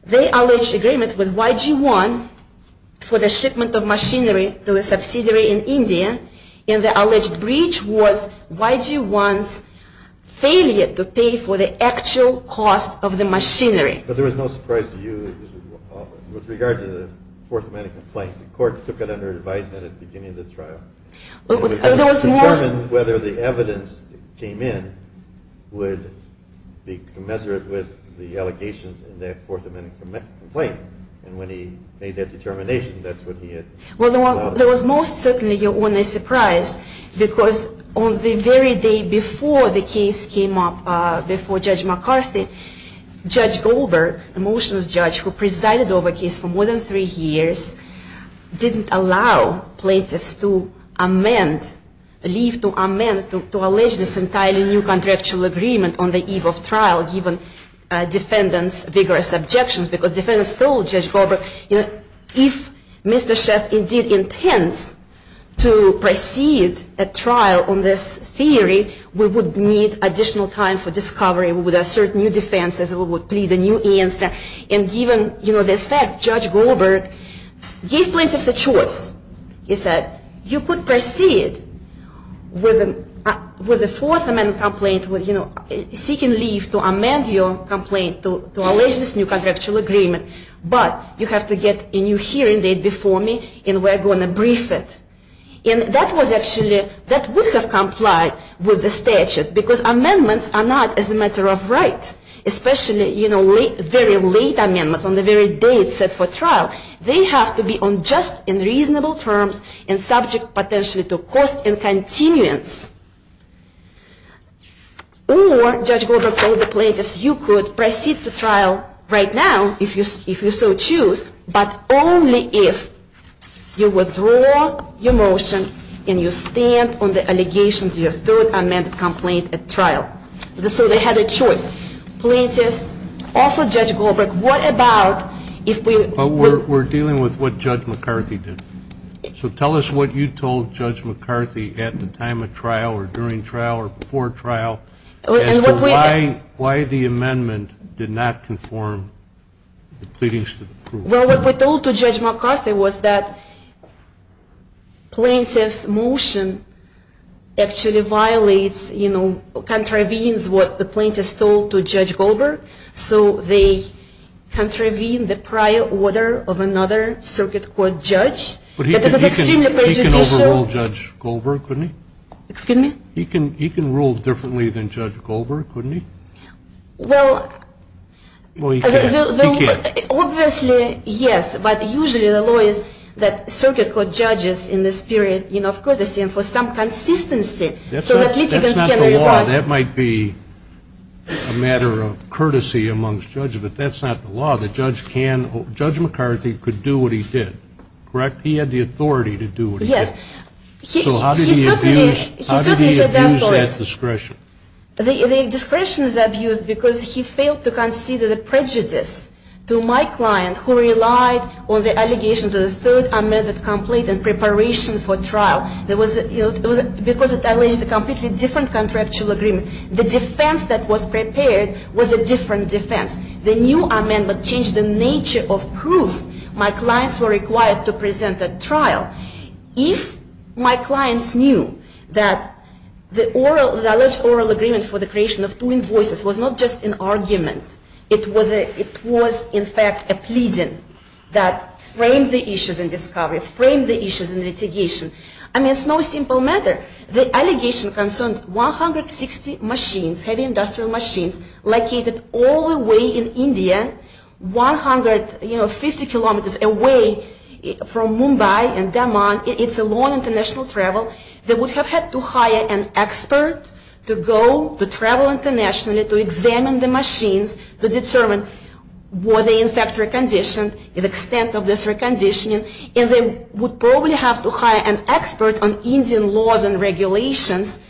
They allege agreement with YG-1 for the shipment of machinery to a subsidiary in India, and the alleged breach was YG-1's failure to pay for the actual cost of the machinery. But there was no surprise to you with regard to the Fourth Amendment complaint. The court took it under advisement at the beginning of the trial. It was determined whether the evidence that came in would be commensurate with the allegations in that Fourth Amendment complaint, and when he made that determination, that's when he had... Well, there was most certainly your only surprise, because on the very day before the case came up, before Judge McCarthy, Judge Goldberg, a motions judge who presided over the case for more than three years, didn't allow plaintiffs to amend, leave to amend, to allege this entirely new contractual agreement on the eve of trial, given defendants' vigorous objections, because defendants told Judge Goldberg, you know, if Mr. Sheff indeed intends to proceed at trial on this theory, we would need additional time for discovery. We would assert new defenses. We would plead a new answer, and given, you know, this fact, Judge Goldberg gave plaintiffs a choice. He said, you could proceed with the Fourth Amendment complaint, you know, seeking leave to amend your complaint, to allege this new contractual agreement, but you have to get a new hearing date before me, and we're going to brief it. And that was actually, that would have complied with the statute, because amendments are not as a matter of right, especially, you know, very late amendments on the very day it's set for trial. They have to be on just and reasonable terms and subject potentially to cost and continuance. Or, Judge Goldberg told the plaintiffs, you could proceed to trial right now, if you so choose, but only if you withdraw your motion and you stand on the allegation to your Third Amendment complaint at trial. So they had a choice. Plaintiffs offered Judge Goldberg, what about if we... But we're dealing with what Judge McCarthy did. So tell us what you told Judge McCarthy at the time of trial, or during trial, or before trial, as to why the amendment did not conform to the pleadings to the proof. Well, what we told to Judge McCarthy was that plaintiff's motion actually violates, you know, contravenes what the plaintiffs told to Judge Goldberg. So they contravene the prior order of another circuit court judge. But he can overrule Judge Goldberg, couldn't he? Excuse me? He can rule differently than Judge Goldberg, couldn't he? Well... Well, he can't. He can't. Obviously, yes, but usually the law is that circuit court judges in this period, you know, of courtesy and for some consistency so that litigants can reply. Now, that might be a matter of courtesy amongst judges, but that's not the law. The judge can, Judge McCarthy could do what he did, correct? He had the authority to do what he did. Yes. So how did he abuse that discretion? The discretion is abused because he failed to concede the prejudice to my client who relied on the allegations of the third amended complaint in preparation for trial. Because it alleged a completely different contractual agreement, the defense that was prepared was a different defense. The new amendment changed the nature of proof my clients were required to present at trial. If my clients knew that the alleged oral agreement for the creation of two invoices was not just an argument, it was in fact a pleading that framed the issues in discovery, framed the issues in litigation. I mean, it's no simple matter. The allegation concerned 160 machines, heavy industrial machines, located all the way in India, 150 kilometers away from Mumbai and Daman. It's a long international travel. They would have had to hire an expert to go, to travel internationally, to examine the machines, to determine were they in fact reconditioned, the extent of this reconditioning. And they would probably have to hire an expert on Indian laws and regulations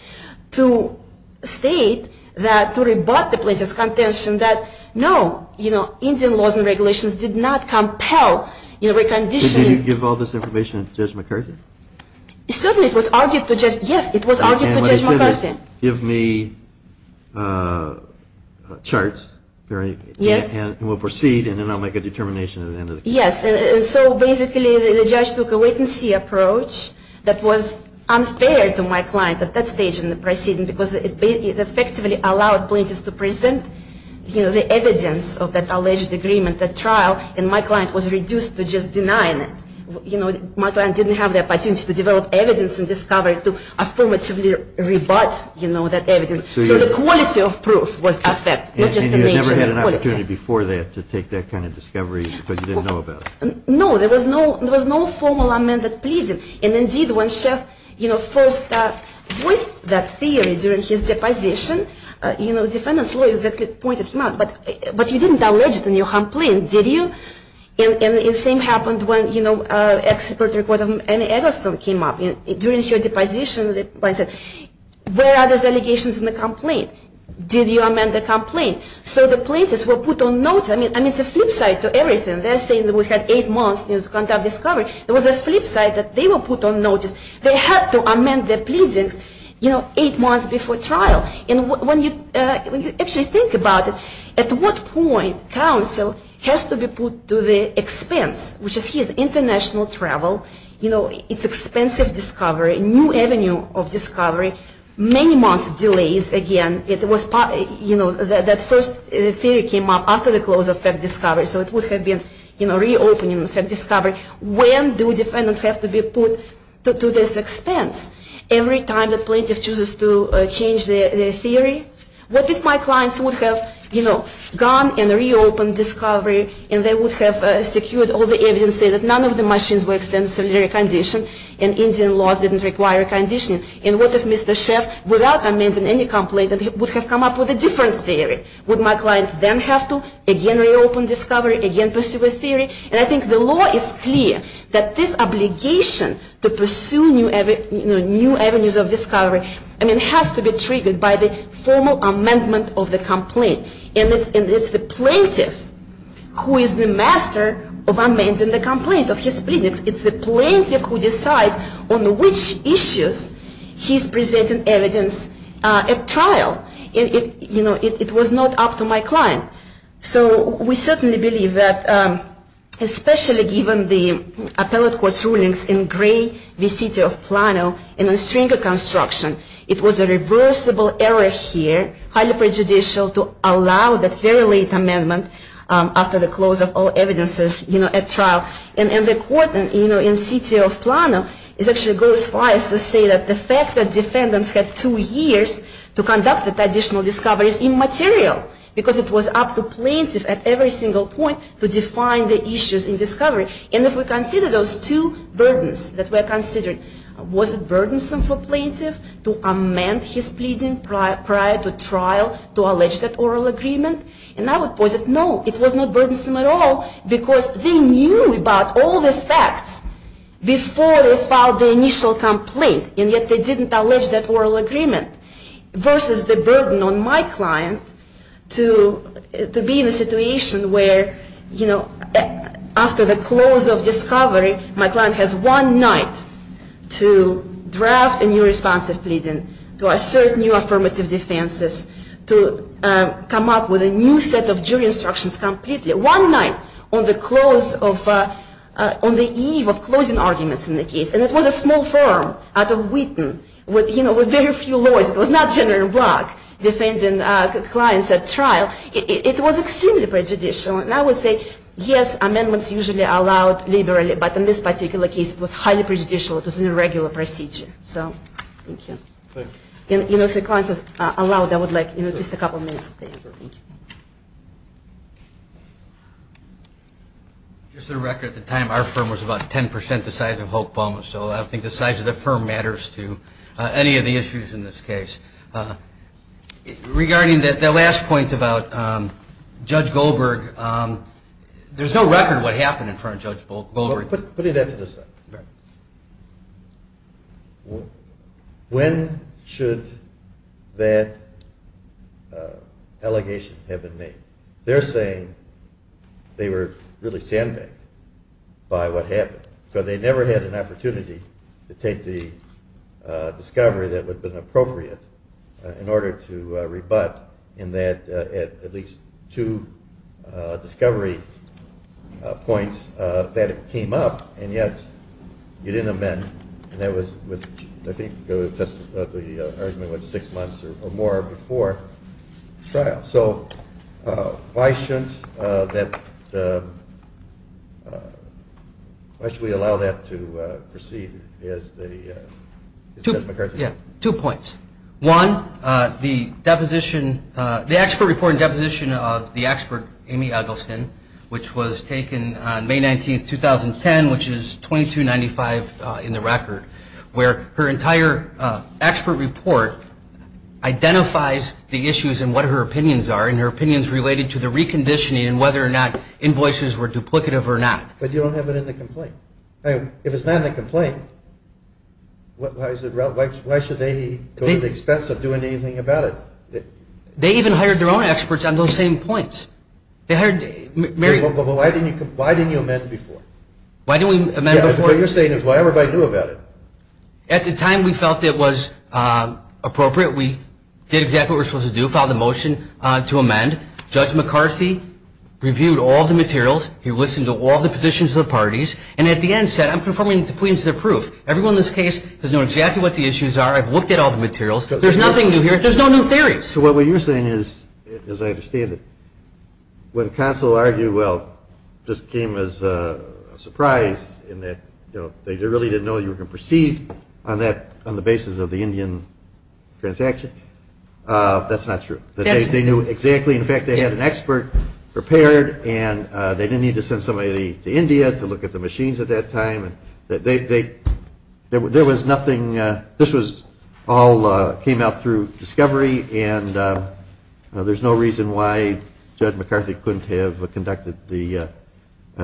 to state that, to rebut the plaintiff's contention that no, you know, Indian laws and regulations did not compel reconditioning. Did you give all this information to Judge McCarthy? Certainly, it was argued to Judge, yes, it was argued to Judge McCarthy. And what he said is, give me charts and we'll proceed and then I'll make a determination at the end of the case. Yes, and so basically the judge took a wait-and-see approach that was unfair to my client at that stage in the proceeding because it effectively allowed plaintiffs to present, you know, the evidence of that alleged agreement at trial and my client was reduced to just denying it. You know, my client didn't have the opportunity to develop evidence and discover to affirmatively rebut, you know, that evidence. So the quality of proof was affected, not just the nature of the quality. And you never had an opportunity before that to take that kind of discovery because you didn't know about it? No, there was no formal amended pleading. And indeed, when Sheff, you know, first voiced that theory during his deposition, you know, defendant's lawyers pointed him out, but you didn't allege it in your complaint, did you? And the same happened when, you know, expert report of Annie Eggleston came up. During her deposition, the client said, where are those allegations in the complaint? Did you amend the complaint? So the plaintiffs were put on notice. I mean, it's a flip side to everything. They're saying that we had eight months to conduct discovery. There was a flip side that they were put on notice. They had to amend their pleadings, you know, eight months before trial. And when you actually think about it, at what point counsel has to be put to the expense, which is his international travel, you know, it's expensive discovery, new avenue of discovery, many months delays. Again, it was, you know, that first theory came up after the close of fact discovery. So it would have been, you know, reopening the fact discovery. When do defendants have to be put to this expense? Every time the plaintiff chooses to change their theory? What if my clients would have, you know, gone and reopened discovery, and they would have secured all the evidence and said that none of the machines were extensively reconditioned, and Indian laws didn't require reconditioning? And what if Mr. Sheff, without amending any complaint, would have come up with a different theory? Would my client then have to again reopen discovery, again pursue a theory? And I think the law is clear that this obligation to pursue new avenues of discovery, I mean, has to be triggered by the formal amendment of the complaint. And it's the plaintiff who is the master of amending the complaint of his plaintiffs. It's the plaintiff who decides on which issues he's presenting evidence at trial. You know, it was not up to my client. So we certainly believe that, especially given the appellate court's rulings in Gray v. City of Plano, in the Stringer construction, it was a reversible error here, highly prejudicial, to allow that very late amendment after the close of all evidence, you know, at trial. And the court, you know, in City of Plano, it actually goes far as to say that the fact that defendants had two years to conduct the additional discoveries immaterial, because it was up to plaintiff at every single point to define the issues in discovery. And if we consider those two burdens that were considered, was it burdensome for plaintiff to amend his pleading prior to trial, to allege that oral agreement? And I would posit no, it was not burdensome at all, because they knew about all the facts before they filed the initial complaint, and yet they didn't allege that oral agreement, versus the burden on my client to be in a situation where, you know, after the close of discovery, my client has one night to draft a new response of pleading, to assert new affirmative defenses, to come up with a new set of jury instructions completely. One night on the eve of closing arguments in the case, and it was a small firm out of Wheaton, you know, with very few lawyers. It was not a general block defending clients at trial. It was extremely prejudicial, and I would say, yes, amendments usually are allowed liberally, but in this particular case, it was highly prejudicial. It was an irregular procedure. So, thank you. If the client is allowed, I would like just a couple of minutes of paper. Just a record at the time, our firm was about 10% the size of Hope, so I don't think the size of the firm matters to any of the issues in this case. Regarding the last point about Judge Goldberg, there's no record of what happened in front of Judge Goldberg. Putting that to the side, when should that allegation have been made? They're saying they were really sandbagged by what happened, because they never had an opportunity to take the discovery that would have been appropriate in order to rebut in that at least two discovery points that it came up, and yet you didn't amend, and I think the argument was six months or more before trial. So, why should we allow that to proceed? Two points. One, the expert report and deposition of the expert, Amy Eggleston, which was taken on May 19, 2010, which is 2295 in the record, where her entire expert report identifies the issues and what her opinions are, and her opinions related to the reconditioning and whether or not invoices were duplicative or not. But you don't have it in the complaint. If it's not in the complaint, why should they go to the expense of doing anything about it? They even hired their own experts on those same points. Why didn't you amend before? The point you're saying is why everybody knew about it. At the time we felt it was appropriate. We did exactly what we were supposed to do, filed a motion to amend. Judge McCarthy reviewed all the materials. He listened to all the positions of the parties, and at the end said, I'm confirming that the plea is approved. Everyone in this case has known exactly what the issues are. I've looked at all the materials. There's nothing new here. There's no new theories. So what you're saying is, as I understand it, when counsel argued, well, this came as a surprise in that they really didn't know you were going to proceed on the basis of the Indian transaction. That's not true. They knew exactly. In fact, they had an expert prepared, and they didn't need to send somebody to India to look at the machines at that time. There was nothing. This all came out through discovery, and there's no reason why Judge McCarthy couldn't have conducted the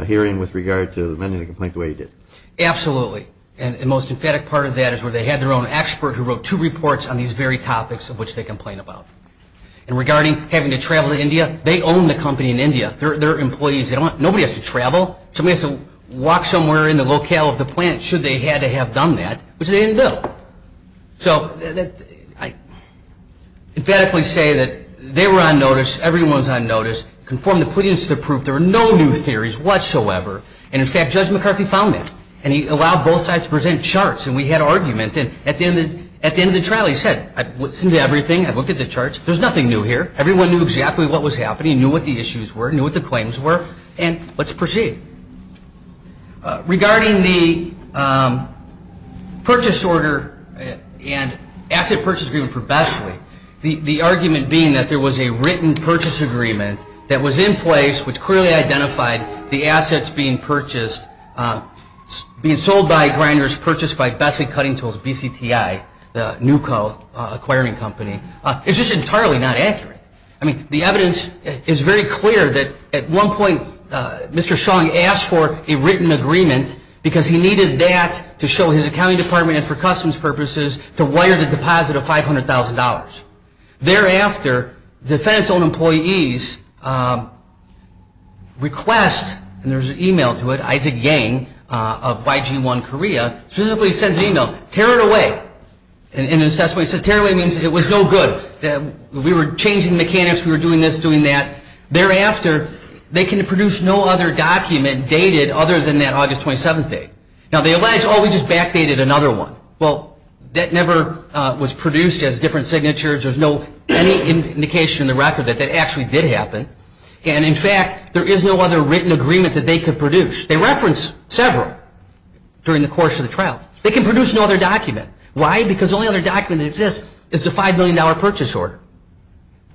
hearing with regard to amending the complaint the way he did. Absolutely. And the most emphatic part of that is where they had their own expert who wrote two reports on these very topics of which they complained about. And regarding having to travel to India, they own the company in India. They're employees. Nobody has to travel. Somebody has to walk somewhere in the locale of the plant should they had to have done that, which they didn't do. So I emphatically say that they were on notice. Everyone was on notice. Confirmed the plea is approved. There were no new theories whatsoever, and in fact, Judge McCarthy found them, and he allowed both sides to present charts, and we had argument. And at the end of the trial, he said, I've listened to everything. I've looked at the charts. There's nothing new here. Everyone knew exactly what was happening, knew what the issues were, knew what the claims were, and let's proceed. Regarding the purchase order and asset purchase agreement for Besley, the argument being that there was a written purchase agreement that was in place which clearly identified the assets being purchased, being sold by Grinders, purchased by Besley Cutting Tools, BCTI, the new co-acquiring company, is just entirely not accurate. I mean, the evidence is very clear that at one point Mr. Song asked for a written agreement because he needed that to show his accounting department and for customs purposes to wire the deposit of $500,000. Thereafter, defense-owned employees request, and there's an email to it, Isaac Yang of YG-1 Korea, physically sends an email, tear it away. In his testimony, he said, tear it away means it was no good. We were changing mechanics. We were doing this, doing that. Thereafter, they can produce no other document dated other than that August 27th date. Now, they allege, oh, we just backdated another one. Well, that never was produced as different signatures. There's no indication in the record that that actually did happen. And, in fact, there is no other written agreement that they could produce. They reference several during the course of the trial. They can produce no other document. Why? Because the only other document that exists is the $5 million purchase order.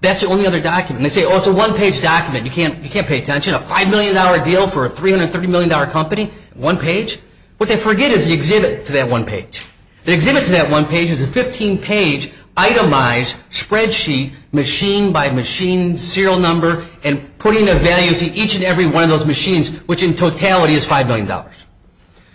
That's the only other document. They say, oh, it's a one-page document. You can't pay attention. A $5 million deal for a $330 million company, one page. What they forget is the exhibit to that one page. The exhibit to that one page is a 15-page itemized spreadsheet, machine by machine, serial number, and putting the value to each and every one of those machines, which in totality is $5 million.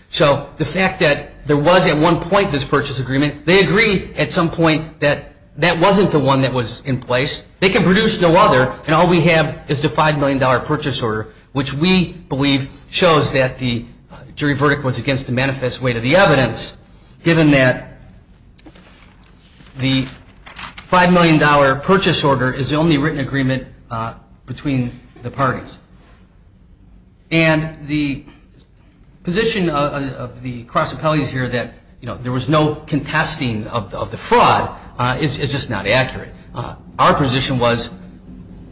So the fact that there was at one point this purchase agreement, they agree at some point that that wasn't the one that was in place. They can produce no other, and all we have is the $5 million purchase order, which we believe shows that the jury verdict was against the manifest weight of the evidence, given that the $5 million purchase order is the only written agreement between the parties. And the position of the cross appellees here that there was no contesting of the fraud is just not accurate. Our position was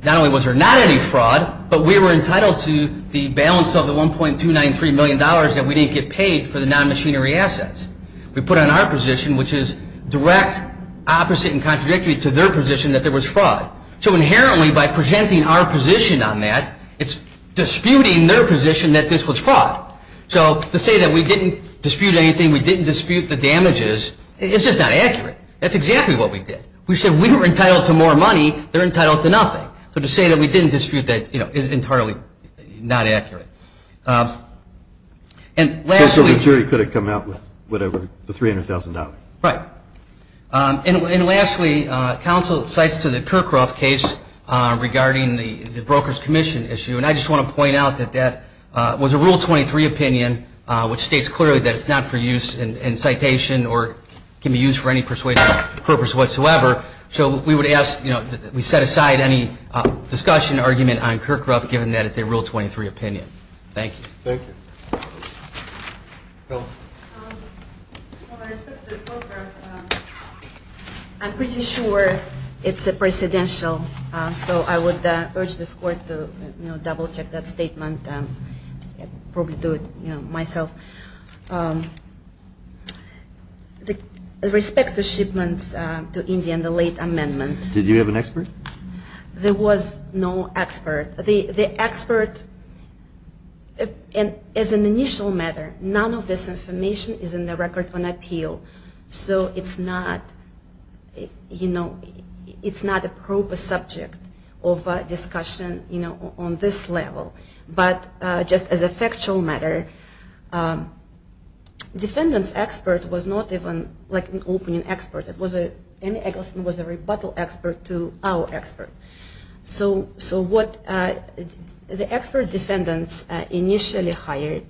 not only was there not any fraud, but we were entitled to the balance of the $1.293 million that we didn't get paid for the non-machinery assets. We put on our position, which is direct opposite and contradictory to their position that there was fraud. So inherently by presenting our position on that, it's disputing their position that this was fraud. So to say that we didn't dispute anything, we didn't dispute the damages, it's just not accurate. That's exactly what we did. We said we were entitled to more money, they're entitled to nothing. So to say that we didn't dispute that is entirely not accurate. So the jury could have come out with whatever, the $300,000? Right. And lastly, counsel cites to the Kirkcroft case regarding the Brokers Commission issue, and I just want to point out that that was a Rule 23 opinion, which states clearly that it's not for use in citation or can be used for any persuasive purpose whatsoever. So we would ask that we set aside any discussion or argument on Kirkcroft, given that it's a Rule 23 opinion. Thank you. Thank you. Helen. With respect to Kirkcroft, I'm pretty sure it's a presidential, so I would urge this Court to double-check that statement. Probably do it myself. With respect to shipments to India and the late amendments. Did you have an expert? There was no expert. The expert, as an initial matter, none of this information is in the record on appeal. So it's not, you know, it's not a proper subject of discussion, you know, on this level. But just as a factual matter, defendant's expert was not even like an opening expert. It was a rebuttal expert to our expert. So what the expert defendants initially hired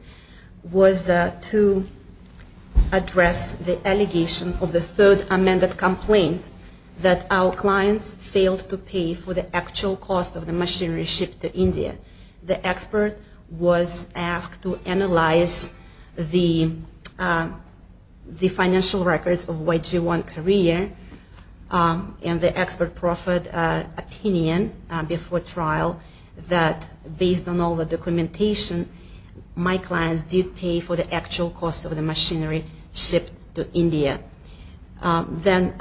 was to address the allegation of the third amended complaint that our clients failed to pay for the actual cost of the machinery shipped to India. The expert was asked to analyze the financial records of YG-1 Korea and the expert proffered opinion before trial that based on all the documentation, my clients did pay for the actual cost of the machinery shipped to India. Then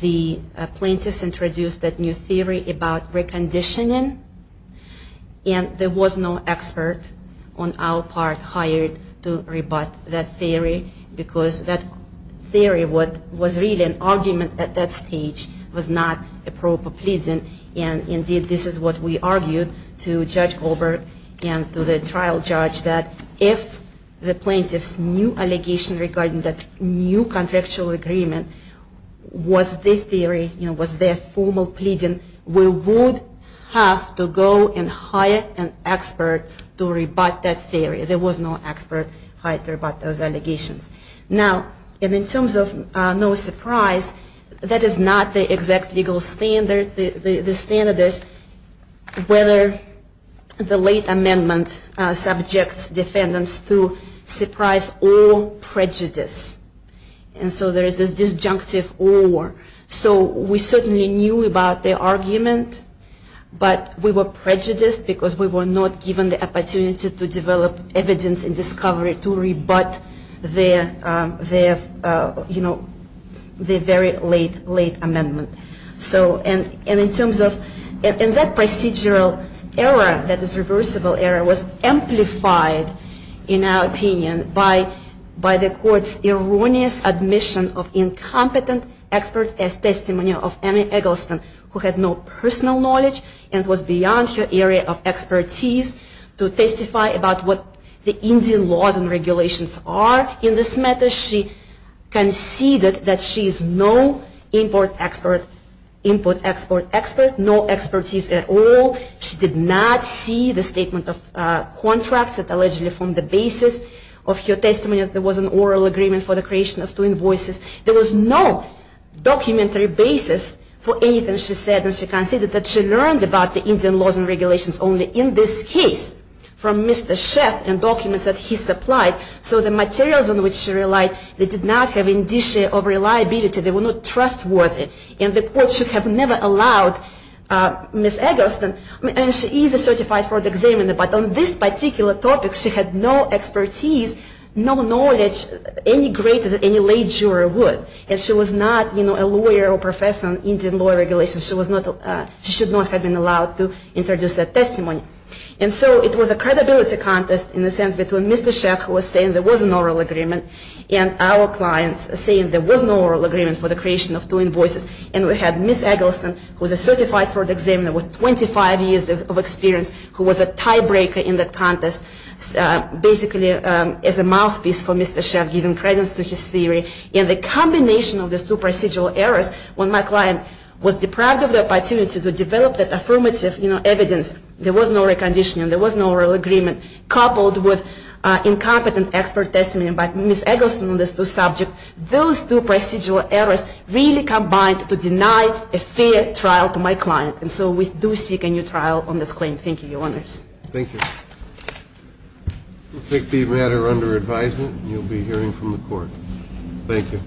the plaintiffs introduced that new theory about reconditioning. And there was no expert on our part hired to rebut that theory because that theory was really an argument at that stage. It was not a proper pleading and indeed this is what we argued to Judge Goldberg and to the trial judge that if the plaintiffs' new allegation regarding that new contractual agreement was their theory, you know, was their formal pleading, we would have to go and hire an expert to rebut that theory. There was no expert hired to rebut those allegations. Now in terms of no surprise, that is not the exact legal standard. The standard is whether the late amendment subjects defendants to surprise or prejudice. And so there is this disjunctive or. We were prejudiced because we were not given the opportunity to develop evidence in discovery to rebut their very late amendment. And in terms of that procedural error that is reversible error was amplified in our opinion by the court's erroneous admission of the late amendment. In this matter, she conceded that she is no import-export expert, no expertise at all. She did not see the statement of contracts that allegedly formed the basis of her testimony that there was an oral agreement for the creation of two invoices. There was no documentary basis for anything she said and she conceded that she learned about the Indian laws and regulations only in this case from Mr. Sheff and documents that he supplied. So the materials on which she relied, they did not have indicia of reliability. They were not trustworthy. And the court should have never allowed Ms. Eggleston, and she is a certified fraud examiner, but on this particular topic she had no expertise, no knowledge any greater than any late juror would. And she was not a lawyer or professor on Indian law and regulations. She should not have been allowed to introduce that testimony. And so it was a credibility contest in the sense between Mr. Sheff, who was saying there was an oral agreement, and our clients saying there was an oral agreement for the creation of two invoices. And we had Ms. Eggleston, who was a certified fraud examiner with 25 years of experience, who was a tiebreaker in the contest, basically as a mouthpiece for Mr. Sheff, giving credence to his theory. And the combination of these two procedural errors, when my client was deprived of the opportunity to develop that affirmative evidence, there was no reconditioning, there was no oral agreement, coupled with incompetent expert testimony by Ms. Eggleston on these two subjects, those two procedural errors really combined to deny a fair trial to my client. And so we do seek a new trial on this claim. Thank you, Your Honors. Thank you. We'll take the matter under advisement, and you'll be hearing from the court. Thank you.